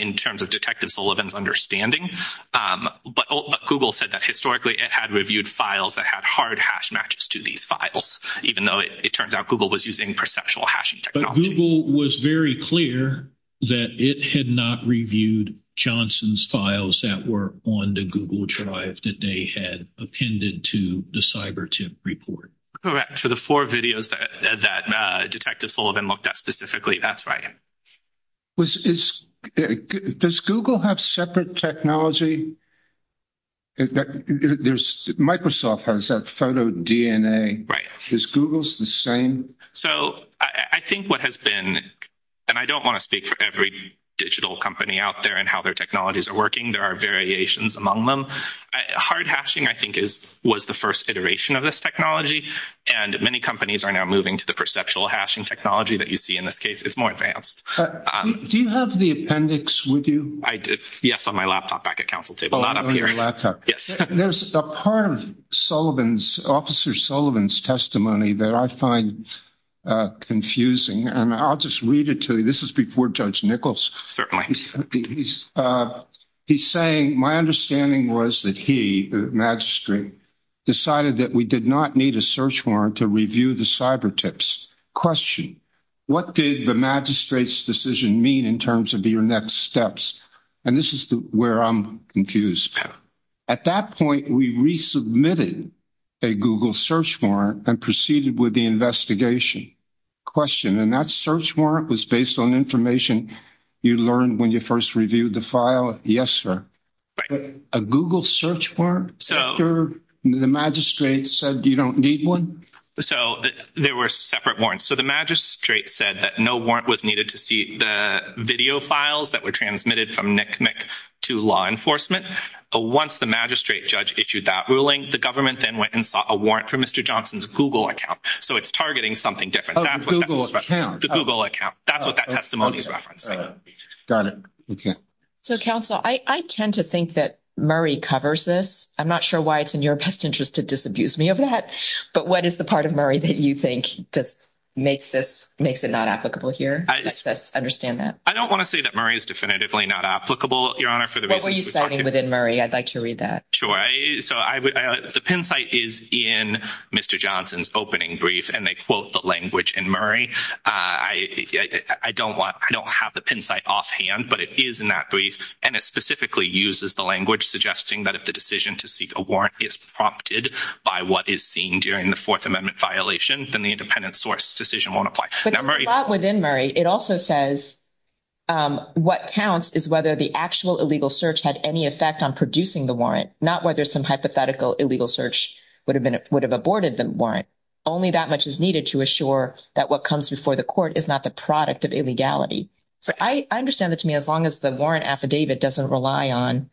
in terms of Detective Sullivan's understanding. But Google said that historically it had reviewed files that had hard hash matches to these files, even though it turns out Google was using perceptual hashing technology. Google was very clear that it had not reviewed Johnson's files that were on the Google Drive that they had appended to the cyber tip report. Correct. For the four videos that Detective Sullivan looked at specifically, that's right. Does Google have separate technology? Microsoft has that photo DNA. Right. Is Google the same? So I think what has been—and I don't want to speak for every digital company out there and how their technologies are working. There are variations among them. Hard hashing, I think, was the first iteration of this technology, and many companies are now moving to the perceptual hashing technology that you see in this case. It's more advanced. Do you have the appendix with you? Yes, on my laptop back at Council Table. Oh, on your laptop. Yes. There's a part of Sullivan's—Officer Sullivan's testimony that I find confusing, and I'll just read it to you. This is before Judge Nichols. He's saying, my understanding was that he, the magistrate, decided that we did not need a search warrant to review the cyber tips. Question, what did the magistrate's decision mean in terms of your next steps? And this is where I'm confused. At that point, we resubmitted a Google search warrant and proceeded with the investigation. Question, and that search warrant was based on information you learned when you first reviewed the file? Yes, sir. A Google search warrant? The magistrate said you don't need one? So there were separate warrants. So the magistrate said that no warrant was needed to see the video files that were transmitted from Nick Nick to law enforcement. Once the magistrate judge issued that ruling, the government then went and sought a warrant for Mr. Johnson's Google account. So it's targeting something different. Oh, the Google account. The Google account. That's what that testimony is referencing. Got it. Okay. So, counsel, I tend to think that Murray covers this. I'm not sure why it's in your best interest to disabuse me of that. But what is the part of Murray that you think makes this-makes it not applicable here? Let's understand that. I don't want to say that Murray is definitively not applicable, Your Honor. What were you saying within Murray? I'd like to read that. Sure. So the PIN site is in Mr. Johnson's opening brief, and they quote the language in Murray. I don't want-I don't have the PIN site offhand, but it is in that brief. And it specifically uses the language suggesting that if the decision to seek a warrant is prompted by what is seen during the Fourth Amendment violations, then the independent source decision won't apply. But it's not within Murray. It also says what counts is whether the actual illegal search had any effect on producing the warrant, not whether some hypothetical illegal search would have been-would have aborted the warrant. Only that much is needed to assure that what comes before the court is not the product of illegality. So I understand that, to me, as long as the warrant affidavit doesn't rely on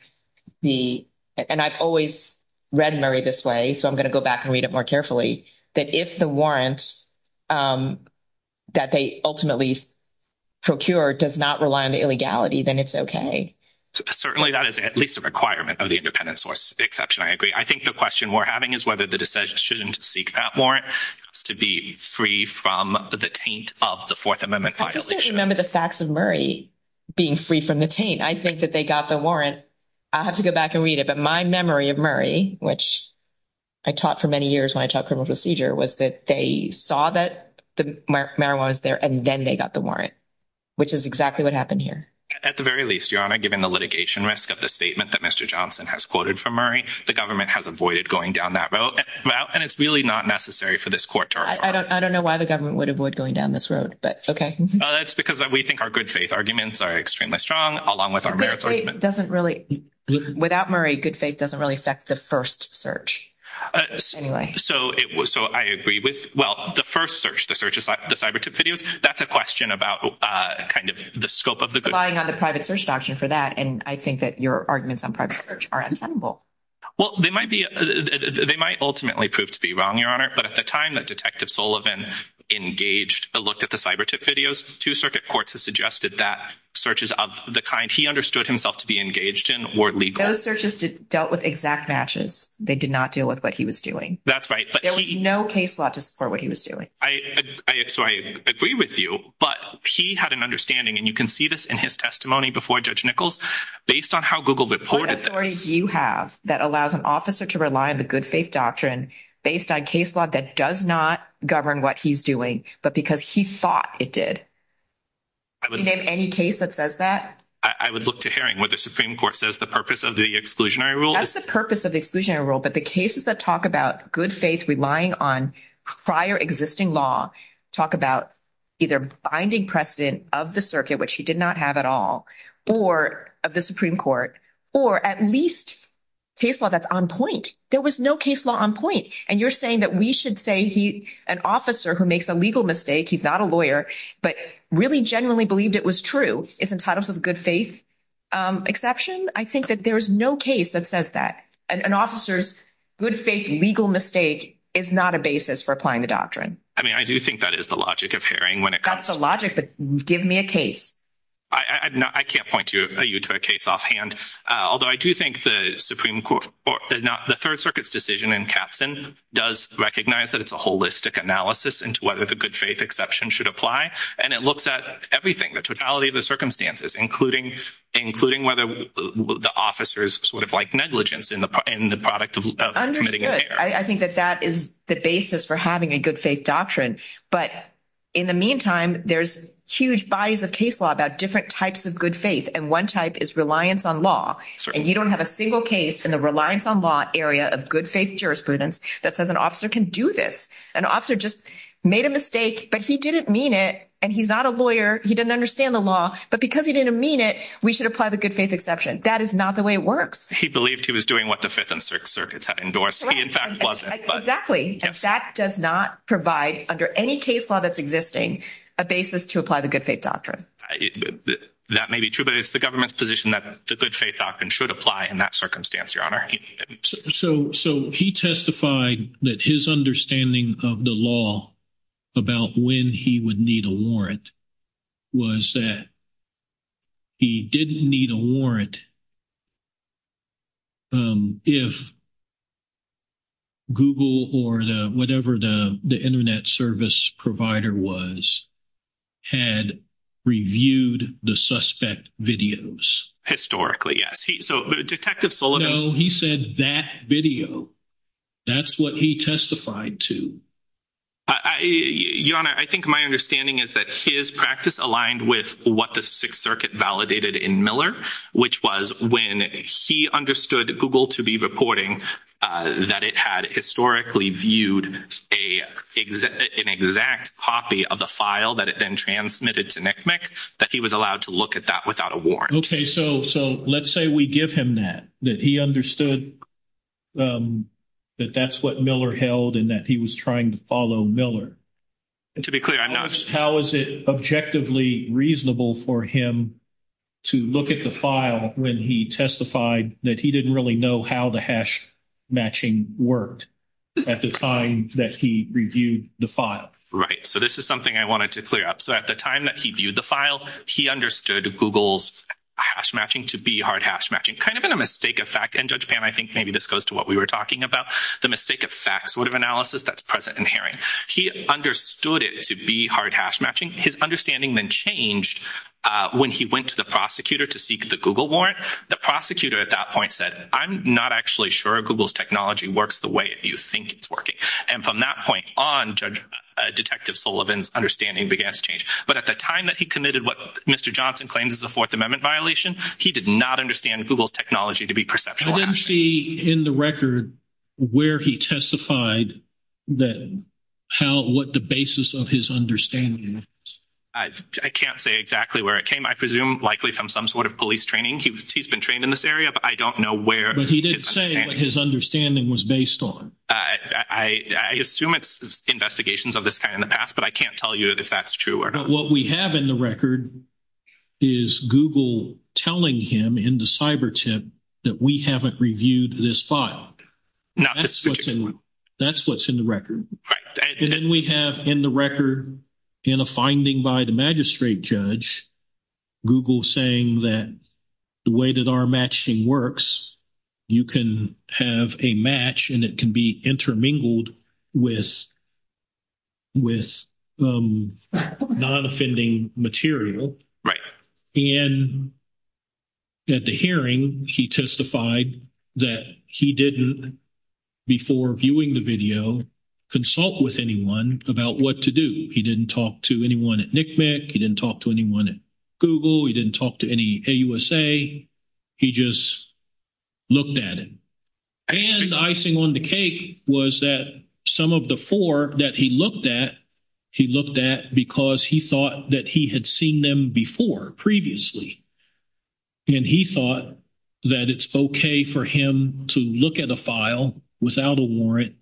the-and I've always read Murray this way, so I'm going to go back and read it more carefully, that if the warrant that they ultimately procure does not rely on illegality, then it's okay. Certainly, that is at least a requirement of the independent source exception. I agree. I think the question we're having is whether the decision to seek that warrant has to be free from the taint of the Fourth Amendment violation. I don't remember the facts of Murray being free from the taint. I think that they got the warrant. I'll have to go back and read it, but my memory of Murray, which I taught for many years when I taught criminal procedure, was that they saw that the marijuana was there and then they got the warrant, which is exactly what happened here. At the very least, Your Honor, given the litigation risk of the statement that Mr. Johnson has quoted from Murray, the government has avoided going down that road, and it's really not necessary for this court to require it. I don't know why the government would avoid going down this road, but okay. That's because we think our good faith arguments are extremely strong, along with our merits arguments. Without Murray, good faith doesn't really affect the first search. So I agree with – well, the first search, the search of the cyber tip videos, that's a question about kind of the scope of the good faith. Relying on the private search doctrine for that, and I think that your arguments on private search are unfavorable. Well, they might ultimately prove to be wrong, Your Honor, but at the time that Detective Sullivan engaged a look at the cyber tip videos, two circuit courts have suggested that searches of the kind he understood himself to be engaged in were legal. Those searches dealt with exact matches. They did not deal with what he was doing. That's right. There was no case law to support what he was doing. So I agree with you, but he had an understanding, and you can see this in his testimony before Judge Nichols, based on how Google reported this. What story do you have that allows an officer to rely on the good faith doctrine based on case law that does not govern what he's doing, but because he thought it did? Do you have any case that says that? I would look to hearing whether the Supreme Court says the purpose of the exclusionary rule. That's the purpose of the exclusionary rule, but the cases that talk about good faith relying on prior existing law talk about either binding precedent of the circuit, which he did not have at all, or of the Supreme Court, or at least case law that's on point. There was no case law on point, and you're saying that we should say an officer who makes a legal mistake, he's not a lawyer, but really genuinely believed it was true is entitled to the good faith exception? I think that there's no case that says that. An officer's good faith legal mistake is not a basis for applying the doctrine. I mean, I do think that is the logic of hearing when it comes to— That's the logic, but give me a case. I can't point you to a case offhand, although I do think the Supreme Court— the Third Circuit's decision in Capston does recognize that it's a holistic analysis into whether the good faith exception should apply, and it looks at everything, the totality of the circumstances, including whether the officers sort of like negligence in the product of committing an error. Understood. I think that that is the basis for having a good faith doctrine. But in the meantime, there's huge bodies of case law about different types of good faith, and one type is reliance on law, and you don't have a single case in the reliance on law area of good faith jurisprudence that says an officer can do this. An officer just made a mistake, but he didn't mean it, and he's not a lawyer. He didn't understand the law, but because he didn't mean it, we should apply the good faith exception. That is not the way it works. He believed he was doing what the Fifth and Sixth Circuits have endorsed. He, in fact, wasn't. Exactly. In fact, does not provide under any case law that's existing a basis to apply the good faith doctrine. That may be true, but it's the government's position that the good faith doctrine should apply in that circumstance, Your Honor. So he testified that his understanding of the law about when he would need a warrant was that he didn't need a warrant if Google or whatever the Internet service provider was had reviewed the suspect videos. Historically, yes. So Detective Sullivan... No, he said that video. That's what he testified to. Your Honor, I think my understanding is that his practice aligned with what the Sixth Circuit validated in Miller, which was when he understood Google to be reporting that it had historically viewed an exact copy of the file that it then transmitted to NCMEC, that he was allowed to look at that without a warrant. Okay, so let's say we give him that, that he understood that that's what Miller held and that he was trying to follow Miller. To be clear, I noticed... How is it objectively reasonable for him to look at the file when he testified that he didn't really know how the hash matching worked at the time that he reviewed the file? Right. So this is something I wanted to clear up. So at the time that he viewed the file, he understood Google's hash matching to be hard hash matching. Kind of a mistake of fact, and Judge Pam, I think maybe this goes to what we were talking about. The mistake of fact sort of analysis that's present in hearing. He understood it to be hard hash matching. His understanding then changed when he went to the prosecutor to seek the Google warrant. The prosecutor at that point said, I'm not actually sure Google's technology works the way you think it's working. And from that point on, Detective Sullivan's understanding began to change. But at the time that he committed what Mr. Johnson claimed was a Fourth Amendment violation, he did not understand Google's technology to be perceptual. Do you then see in the record where he testified what the basis of his understanding was? I can't say exactly where it came. I presume likely from some sort of police training. He's been trained in this area, but I don't know where. But he did say what his understanding was based on. I assume it's investigations of this kind in the past, but I can't tell you if that's true or not. What we have in the record is Google telling him in the cyber tip that we haven't reviewed this file. That's what's in the record. And then we have in the record in a finding by the magistrate judge, Google saying that the way that our matching works, you can have a match and it can be intermingled with non-offending material. And at the hearing, he testified that he didn't, before viewing the video, consult with anyone about what to do. He didn't talk to anyone at NCMEC. He didn't talk to anyone at Google. He didn't talk to any AUSA. He just looked at it. And the icing on the cake was that some of the four that he looked at, he looked at because he thought that he had seen them before, previously. And he thought that it's okay for him to look at a file without a warrant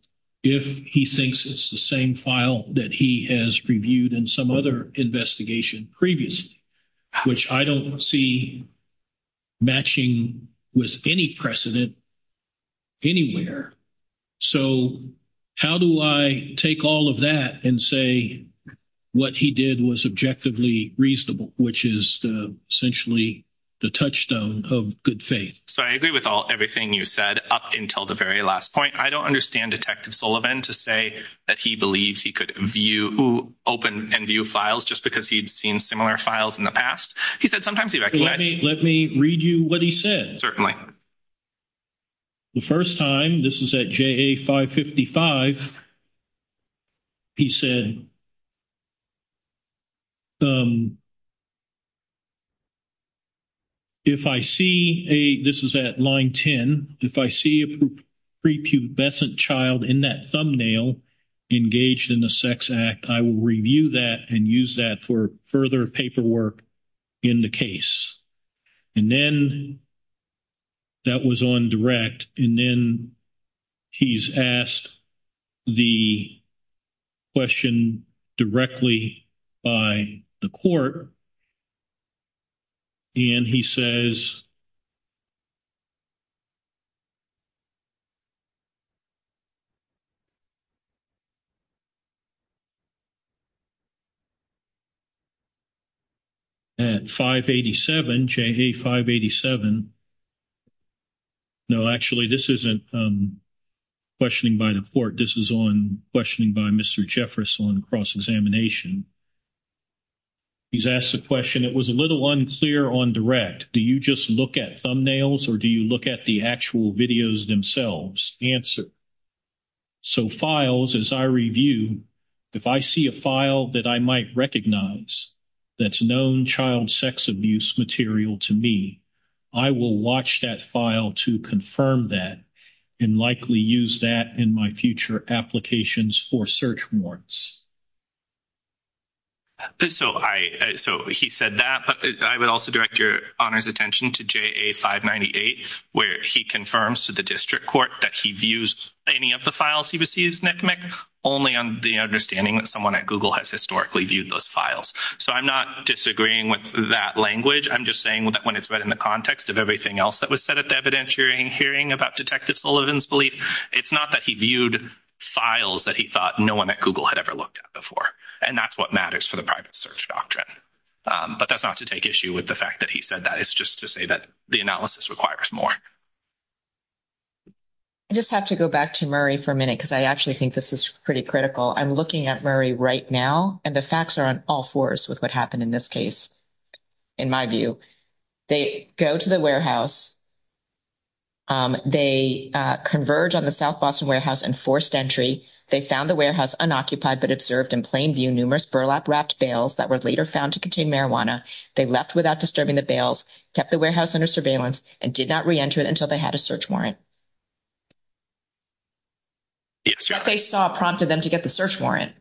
if he thinks it's the same file that he has reviewed in some other investigation previously, which I don't see matching with any precedent anywhere. So how do I take all of that and say what he did was objectively reasonable, which is essentially the touchstone of good faith? So I agree with everything you said up until the very last point. I don't understand Detective Sullivan to say that he believes he could open and view files just because he had seen similar files in the past. Let me read you what he said. The first time, this is at JA555, he said, if I see a, this is at line 10, if I see a prepubescent child in that thumbnail engaged in the sex act, I will review that and use that for further paperwork in the case. And then that was on direct. And then he's asked the question directly by the court. And he says, at 587, JA587. No, actually, this isn't questioning by the court. This is on questioning by Mr. Jeffress on cross-examination. He's asked the question, it was a little unclear on direct. Do you just look at thumbnails or do you look at the actual videos themselves? So files, as I review, if I see a file that I might recognize, that's known child sex abuse material to me, I will watch that file to confirm that and likely use that in my future applications for search warrants. So he said that, but I would also direct your honor's attention to JA598, where he confirms to the district court that he views any of the files he receives, only on the understanding that someone at Google has historically viewed those files. So I'm not disagreeing with that language. I'm just saying that when it's read in the context of everything else that was said at the evidentiary hearing about Detective Sullivan's belief, it's not that he viewed files that he thought no one at Google had ever looked at before, and that's what matters for the private search doctrine. But that's not to take issue with the fact that he said that. It's just to say that the analysis requires more. I just have to go back to Murray for a minute because I actually think this is pretty critical. I'm looking at Murray right now, and the facts are on all fours with what happened in this case, in my view. They go to the warehouse. They converge on the South Boston warehouse and forced entry. They found the warehouse unoccupied but observed in plain view numerous burlap-wrapped bales that were later found to contain marijuana. They left without disturbing the bales, kept the warehouse under surveillance, and did not reenter it until they had a search warrant. What they saw prompted them to get the search warrant,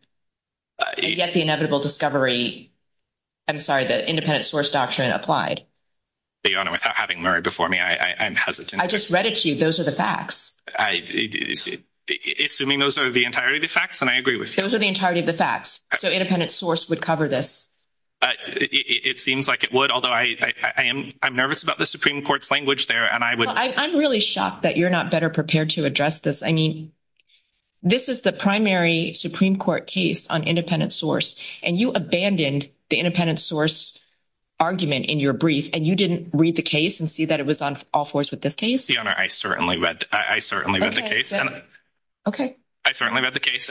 and yet the inevitable discovery—I'm sorry, the independent source doctrine applied. Your Honor, without having Murray before me, I'm hesitant. I just read it to you. Those are the facts. Assuming those are the entirety of the facts, then I agree with you. Those are the entirety of the facts, so independent source would cover this. It seems like it would, although I'm nervous about the Supreme Court's language there, and I would— I'm really shocked that you're not better prepared to address this. I mean, this is the primary Supreme Court case on independent source, and you abandoned the independent source argument in your brief, and you didn't read the case and see that it was on all fours with this case? Your Honor, I certainly read the case,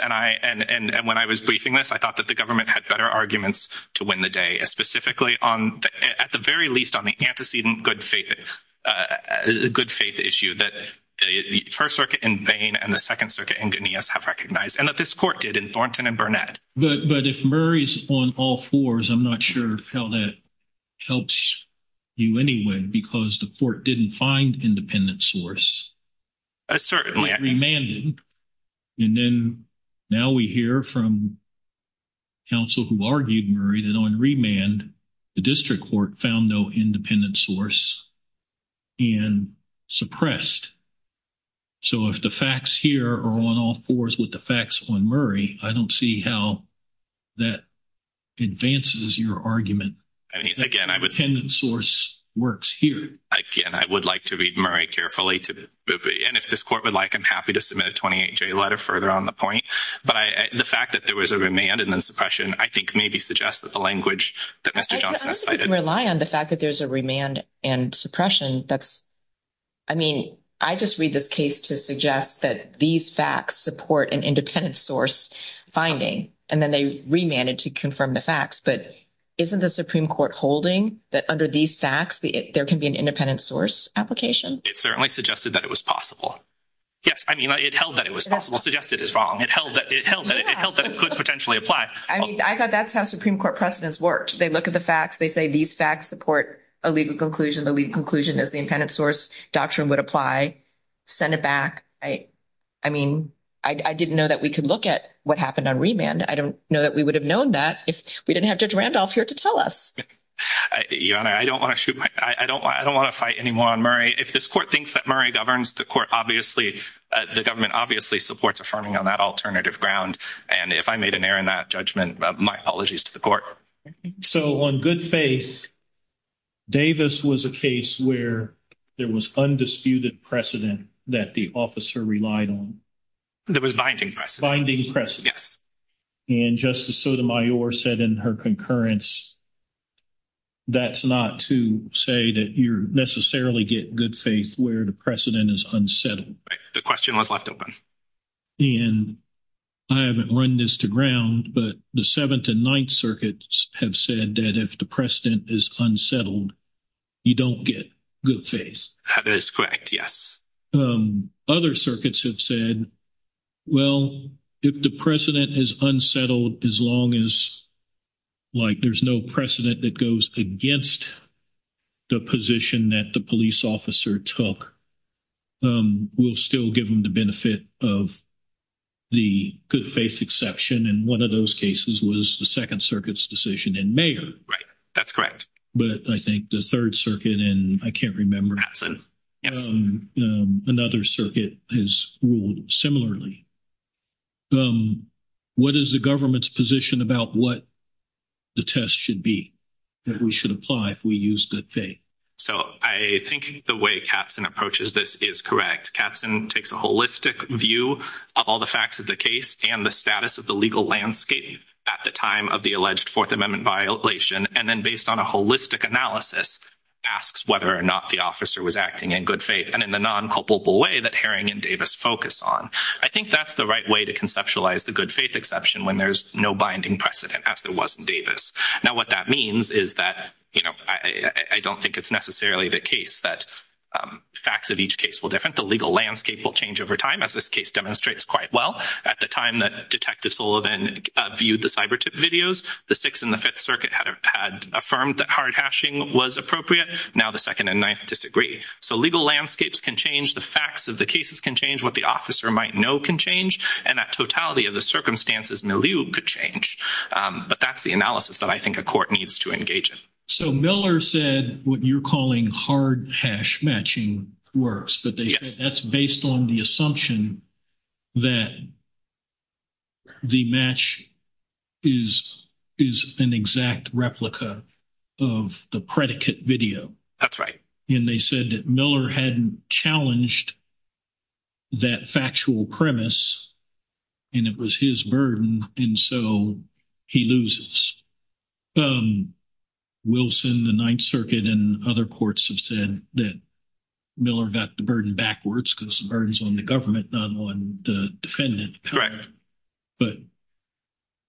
and when I was briefing this, I thought that the government had better arguments to win the day, specifically at the very least on the antecedent good faith issue that the First Circuit in Maine and the Second Circuit in Guinea have recognized, and that this court did in Thornton and Burnett. But if Murray's on all fours, I'm not sure how that helps you anyway, because the court didn't find independent source. Certainly. And then now we hear from counsel who argued Murray that on remand, the district court found no independent source and suppressed. So if the facts here are on all fours with the facts on Murray, I don't see how that advances your argument that independent source works here. Again, I would like to read Murray carefully. And if this court would like, I'm happy to submit a 28-J letter further on the point. But the fact that there was a remand and then suppression I think maybe suggests that the language that Mr. Johnson cited— I don't think we can rely on the fact that there's a remand and suppression. I mean, I just read this case to suggest that these facts support an independent source finding, and then they remand it to confirm the facts. But isn't the Supreme Court holding that under these facts there can be an independent source application? It certainly suggested that it was possible. Yes, I mean, it held that it was possible. Suggested is wrong. It held that it could potentially apply. I mean, I thought that's how Supreme Court precedents worked. They look at the facts. They say these facts support a legal conclusion, the legal conclusion that the independent source doctrine would apply. Send it back. I mean, I didn't know that we could look at what happened on remand. I don't know that we would have known that if we didn't have Judge Randolph here to tell us. I don't want to shoot—I don't want to fight anymore on Murray. If this court thinks that Murray governs, the court obviously—the government obviously supports affirming on that alternative ground. And if I made an error in that judgment, my apologies to the court. So on good faith, Davis was a case where there was undisputed precedent that the officer relied on. There was binding precedent. Binding precedent. Yes. And Justice Sotomayor said in her concurrence, that's not to say that you necessarily get good faith where the precedent is unsettled. The question was left open. And I haven't run this to ground, but the Seventh and Ninth Circuits have said that if the precedent is unsettled, you don't get good faith. That is correct, yes. Other circuits have said, well, if the precedent is unsettled, as long as, like, there's no precedent that goes against the position that the police officer took, we'll still give them the benefit of the good faith exception. And one of those cases was the Second Circuit's decision in May. Right. That's correct. But I think the Third Circuit, and I can't remember, another circuit has ruled similarly. What is the government's position about what the test should be that we should apply if we use good faith? So I think the way Katzen approaches this is correct. Katzen takes a holistic view of all the facts of the case and the status of the legal landscape at the time of the alleged Fourth Amendment violation. And then, based on a holistic analysis, asks whether or not the officer was acting in good faith and in the non-culpable way that Herring and Davis focused on. I think that's the right way to conceptualize the good faith exception when there's no binding precedent, as there was in Davis. Now, what that means is that, you know, I don't think it's necessarily the case that facts of each case were different. The legal landscape will change over time, as this case demonstrates quite well. At the time that Detectives Sullivan viewed the cyber tip videos, the Sixth and the Fifth Circuit had affirmed that hard hashing was appropriate. Now, the Second and Ninth disagree. So legal landscapes can change. The facts of the cases can change. What the officer might know can change. And that totality of the circumstances in the legal could change. But that's the analysis that I think a court needs to engage in. So Miller said what you're calling hard hash matching works. But that's based on the assumption that the match is an exact replica of the predicate video. That's right. And they said that Miller hadn't challenged that factual premise, and it was his burden, and so he loses. Wilson, the Ninth Circuit, and other courts have said that Miller got the burden backwards because the burden is on the government, not on the defendant. Correct. But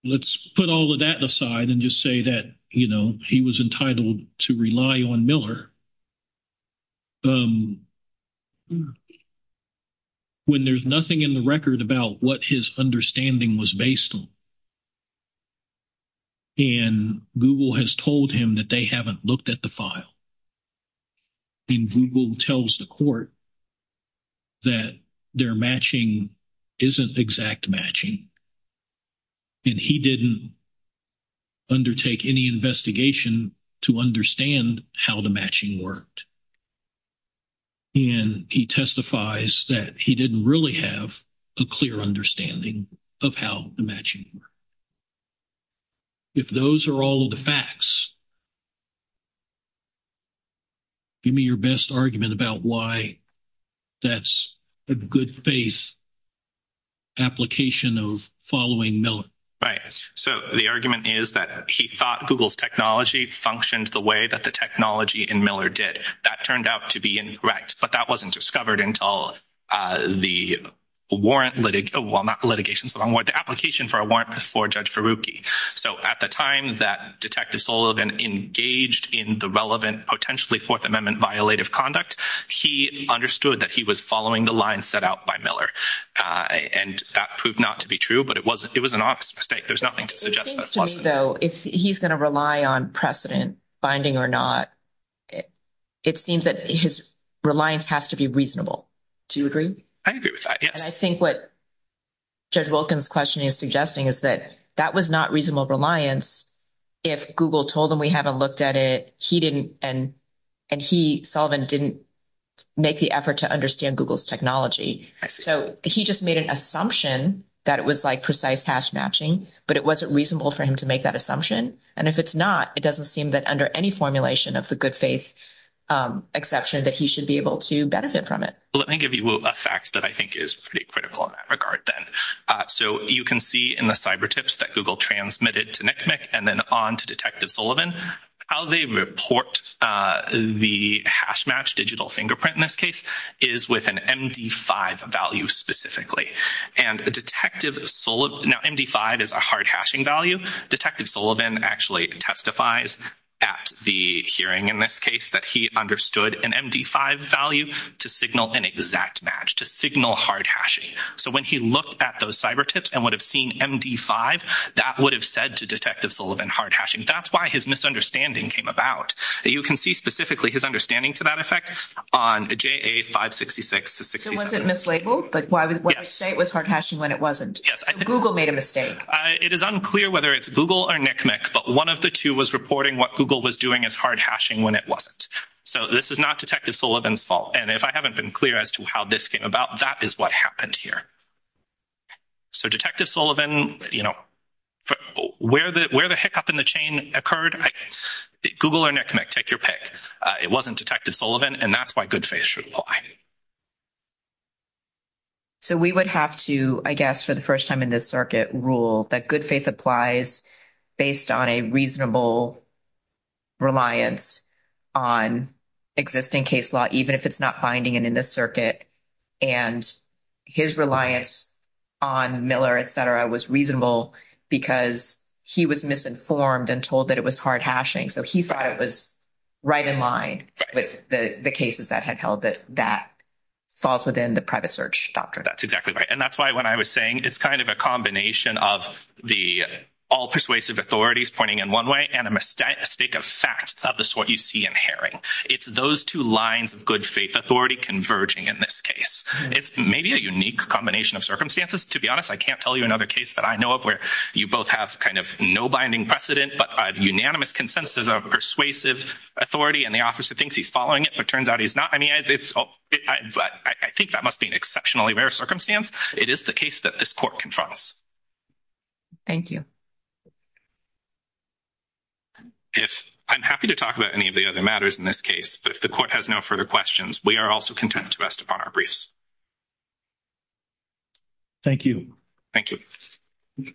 let's put all of that aside and just say that, you know, he was entitled to rely on Miller when there's nothing in the record about what his understanding was based on. And Google has told him that they haven't looked at the file. And Google tells the court that their matching isn't exact matching. And he didn't undertake any investigation to understand how the matching worked. And he testifies that he didn't really have a clear understanding of how the matching worked. If those are all the facts, give me your best argument about why that's a good-faith application of following Miller. Right. So the argument is that he thought Google's technology functioned the way that the technology in Miller did. That turned out to be incorrect, but that wasn't discovered until the warrant—well, not the litigation, the application for a warrant before Judge Faruqi. So at the time that Detective Sullivan engaged in the relevant potentially Fourth Amendment violative conduct, he understood that he was following the line set out by Miller. And that proved not to be true, but it was an obvious mistake. There's nothing to suggest that it wasn't. It seems to me, though, if he's going to rely on precedent, finding or not, it seems that his reliance has to be reasonable. Do you agree? I agree with that, yes. And I think what Judge Wilkins' question is suggesting is that that was not reasonable reliance if Google told him we hadn't looked at it, and he, Sullivan, didn't make the effort to understand Google's technology. So he just made an assumption that it was like precise hash matching, but it wasn't reasonable for him to make that assumption. And if it's not, it doesn't seem that under any formulation of the good faith exception that he should be able to benefit from it. Let me give you a fact that I think is pretty critical in that regard, then. So you can see in the cyber tips that Google transmitted to NCMEC and then on to Detective Sullivan, how they report the hash match, digital fingerprint in this case, is with an MD5 value specifically. And Detective Sullivan—now, MD5 is a hard hashing value. Detective Sullivan actually testifies at the hearing in this case that he understood an MD5 value to signal an exact match, to signal hard hashing. So when he looked at those cyber tips and would have seen MD5, that would have said to Detective Sullivan hard hashing. That's why his misunderstanding came about. You can see specifically his understanding to that effect on the JA566. So was it mislabeled? Yes. But why would they say it was hard hashing when it wasn't? Yes. Google made a mistake. It is unclear whether it's Google or NCMEC, but one of the two was reporting what Google was doing as hard hashing when it wasn't. So this is not Detective Sullivan's fault. And if I haven't been clear as to how this came about, that is what happened here. So Detective Sullivan, you know, where the hiccup in the chain occurred, Google or NCMEC, take your pick. It wasn't Detective Sullivan, and that's why good faith should apply. So we would have to, I guess, for the first time in this circuit, rule that good faith applies based on a reasonable reliance on existing case law, even if it's not finding it in this circuit. And his reliance on Miller, et cetera, was reasonable because he was misinformed and told that it was hard hashing. So he thought it was right in line with the cases that had held that that falls within the private search doctrine. That's exactly right. And that's why when I was saying it's kind of a combination of the all persuasive authorities pointing in one way and a mistake of fact of the sort you see in Herring. It's those two lines of good faith authority converging in this case. It's maybe a unique combination of circumstances. To be honest, I can't tell you another case that I know of where you both have kind of no binding precedent, but a unanimous consensus of persuasive authority. And the officer thinks he's following it, but turns out he's not. I mean, I think that must be an exceptionally rare circumstance. It is the case that this court confronts. Thank you. I'm happy to talk about any of the other matters in this case, but the court has no further questions. We are also content to rest upon our briefs. Thank you. Thank you.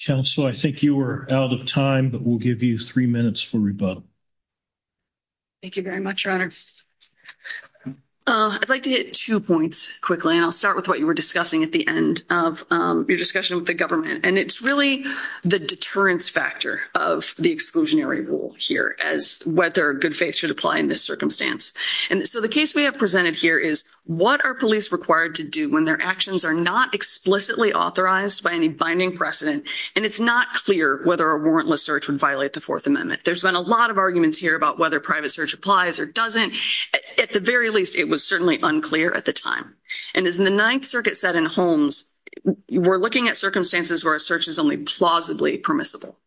So I think you were out of time, but we'll give you three minutes for rebuttal. Thank you very much. I'd like to hit two points quickly, and I'll start with what you were discussing at the end of your discussion with the government. And it's really the deterrence factor of the exclusionary rule here as whether good faith should apply in this circumstance. And so the case we have presented here is what are police required to do when their actions are not explicitly authorized by any binding precedent? And it's not clear whether a warrantless search would violate the Fourth Amendment. There's been a lot of arguments here about whether private search applies or doesn't. At the very least, it was certainly unclear at the time. And as the Ninth Circuit said in Holmes, we're looking at circumstances where a search is only plausibly permissible.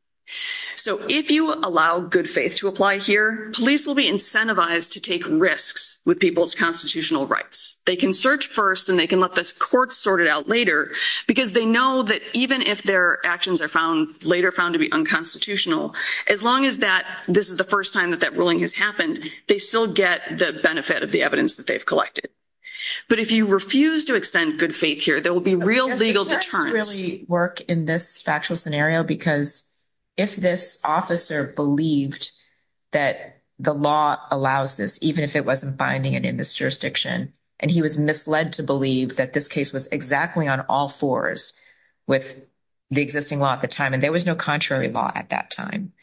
So if you allow good faith to apply here, police will be incentivized to take risks with people's constitutional rights. They can search first, and they can let this court sort it out later because they know that even if their actions are later found to be unconstitutional, as long as this is the first time that that ruling has happened, they still get the benefit of the evidence that they've collected. But if you refuse to extend good faith here, there will be real legal deterrence. Does that really work in this factual scenario? Because if this officer believed that the law allows this, even if it wasn't binding and in this jurisdiction, and he was misled to believe that this case was exactly on all fours with the existing law at the time, and there was no contrary law at that time,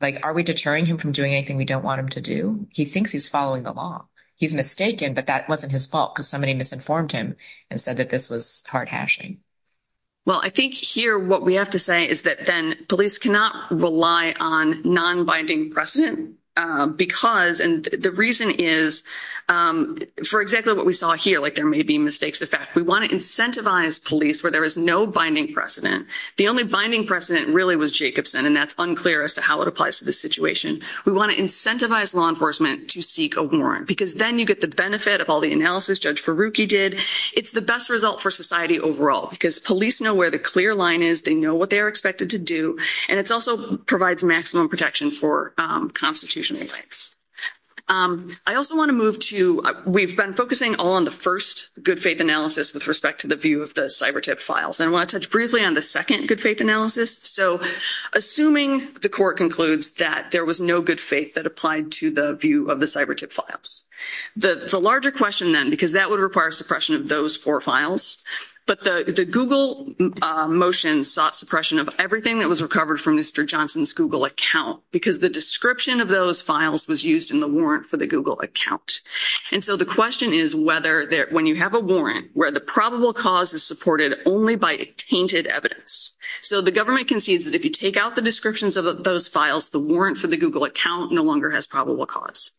like, are we deterring him from doing anything we don't want him to do? He thinks he's following the law. He's mistaken, but that wasn't his fault because somebody misinformed him and said that this was hard hashing. Well, I think here what we have to say is that then police cannot rely on non-binding precedent because, and the reason is for exactly what we saw here, like there may be mistakes. In fact, we want to incentivize police where there is no binding precedent. The only binding precedent really was Jacobson, and that's unclear as to how it applies to this situation. We want to incentivize law enforcement to seek a warrant because then you get the benefit of all the analysis Judge Faruqi did. It's the best result for society overall because police know where the clear line is. They know what they're expected to do, and it also provides maximum protection for constitutional rights. I also want to move to, we've been focusing all on the first good faith analysis with respect to the view of the cyber tip files. I want to touch briefly on the second good faith analysis. So, assuming the court concludes that there was no good faith that applied to the view of the cyber tip files. The larger question then, because that would require suppression of those four files, but the Google motion sought suppression of everything that was recovered from Mr. Johnson's Google account because the description of those files was used in the warrant for the Google account. And so, the question is whether when you have a warrant where the probable cause is supported only by tainted evidence. So, the government concedes that if you take out the descriptions of those files, the warrant for the Google account no longer has probable cause.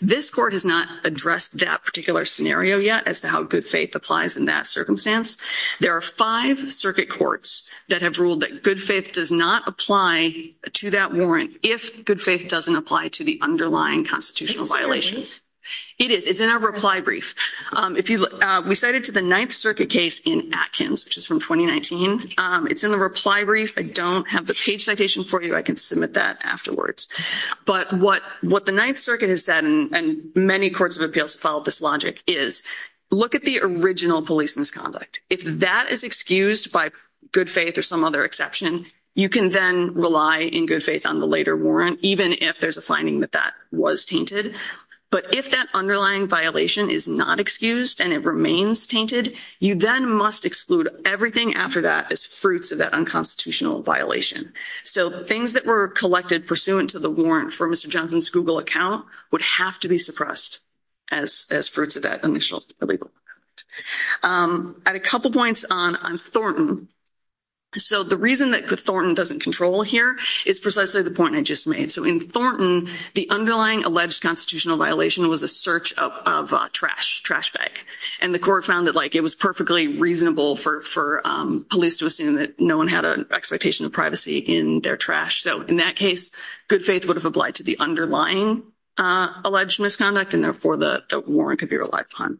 This court has not addressed that particular scenario yet as to how good faith applies in that circumstance. There are five circuit courts that have ruled that good faith does not apply to that warrant if good faith doesn't apply to the underlying constitutional violations. It is. It's in our reply brief. We cited to the Ninth Circuit case in Atkins, which is from 2019. It's in the reply brief. I don't have the page citation for you. I can submit that afterwards. But what the Ninth Circuit has said, and many courts of appeals follow this logic, is look at the original police misconduct. If that is excused by good faith or some other exception, you can then rely in good faith on the later warrant, even if there's a finding that that was tainted. But if that underlying violation is not excused and it remains tainted, you then must exclude everything after that as fruits of that unconstitutional violation. So, things that were collected pursuant to the warrant for Mr. Johnson's Google account would have to be suppressed as fruits of that unconstitutional violation. I had a couple points on Thornton. So, the reason that Thornton doesn't control here is precisely the point I just made. So, in Thornton, the underlying alleged constitutional violation was a search of trash, trash bag. And the court found that, like, it was perfectly reasonable for police to assume that no one had an expectation of privacy in their trash. So, in that case, good faith would have applied to the underlying alleged misconduct, and therefore, the warrant could be relied upon.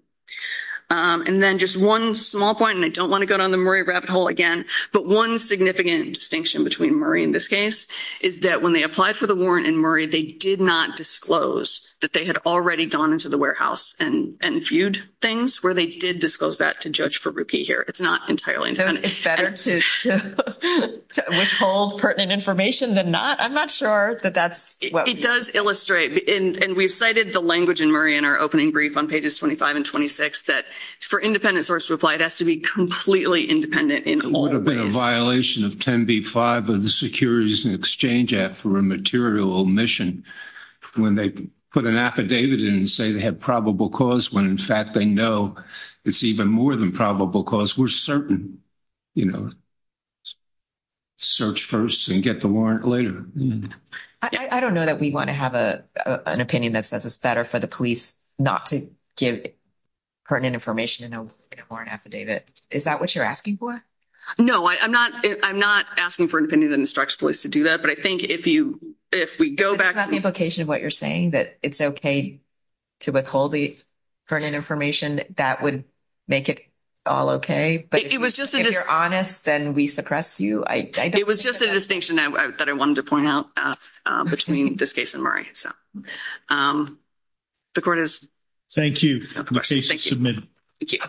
And then just one small point, and I don't want to go down the Murray rabbit hole again, but one significant distinction between Murray in this case is that when they applied for the warrant in Murray, they did not disclose that they had already gone into the warehouse and viewed things, where they did disclose that to judge Faruqi here. It's not entirely. It's better to withhold pertinent information than not. I'm not sure that that's what. It does illustrate, and we've cited the language in Murray in our opening brief on pages 25 and 26, that for independent source to apply, it has to be completely independent. It would have been a violation of 10b-5 of the Securities and Exchange Act for a material omission. When they put an affidavit in and say they have probable cause, when, in fact, they know it's even more than probable cause, we're certain. You know, search first and get the warrant later. I don't know that we want to have an opinion that says it's better for the police not to give pertinent information in a warrant affidavit. Is that what you're asking for? No. I'm not asking for an opinion that instructs police to do that, but I think if we go back. I don't know about the implication of what you're saying, that it's okay to withhold the pertinent information. That would make it all okay. But if you're honest, then we suppress you. It was just a distinction that I wanted to point out between this case and Murray. The court is. Thank you. The case is submitted. Thank you.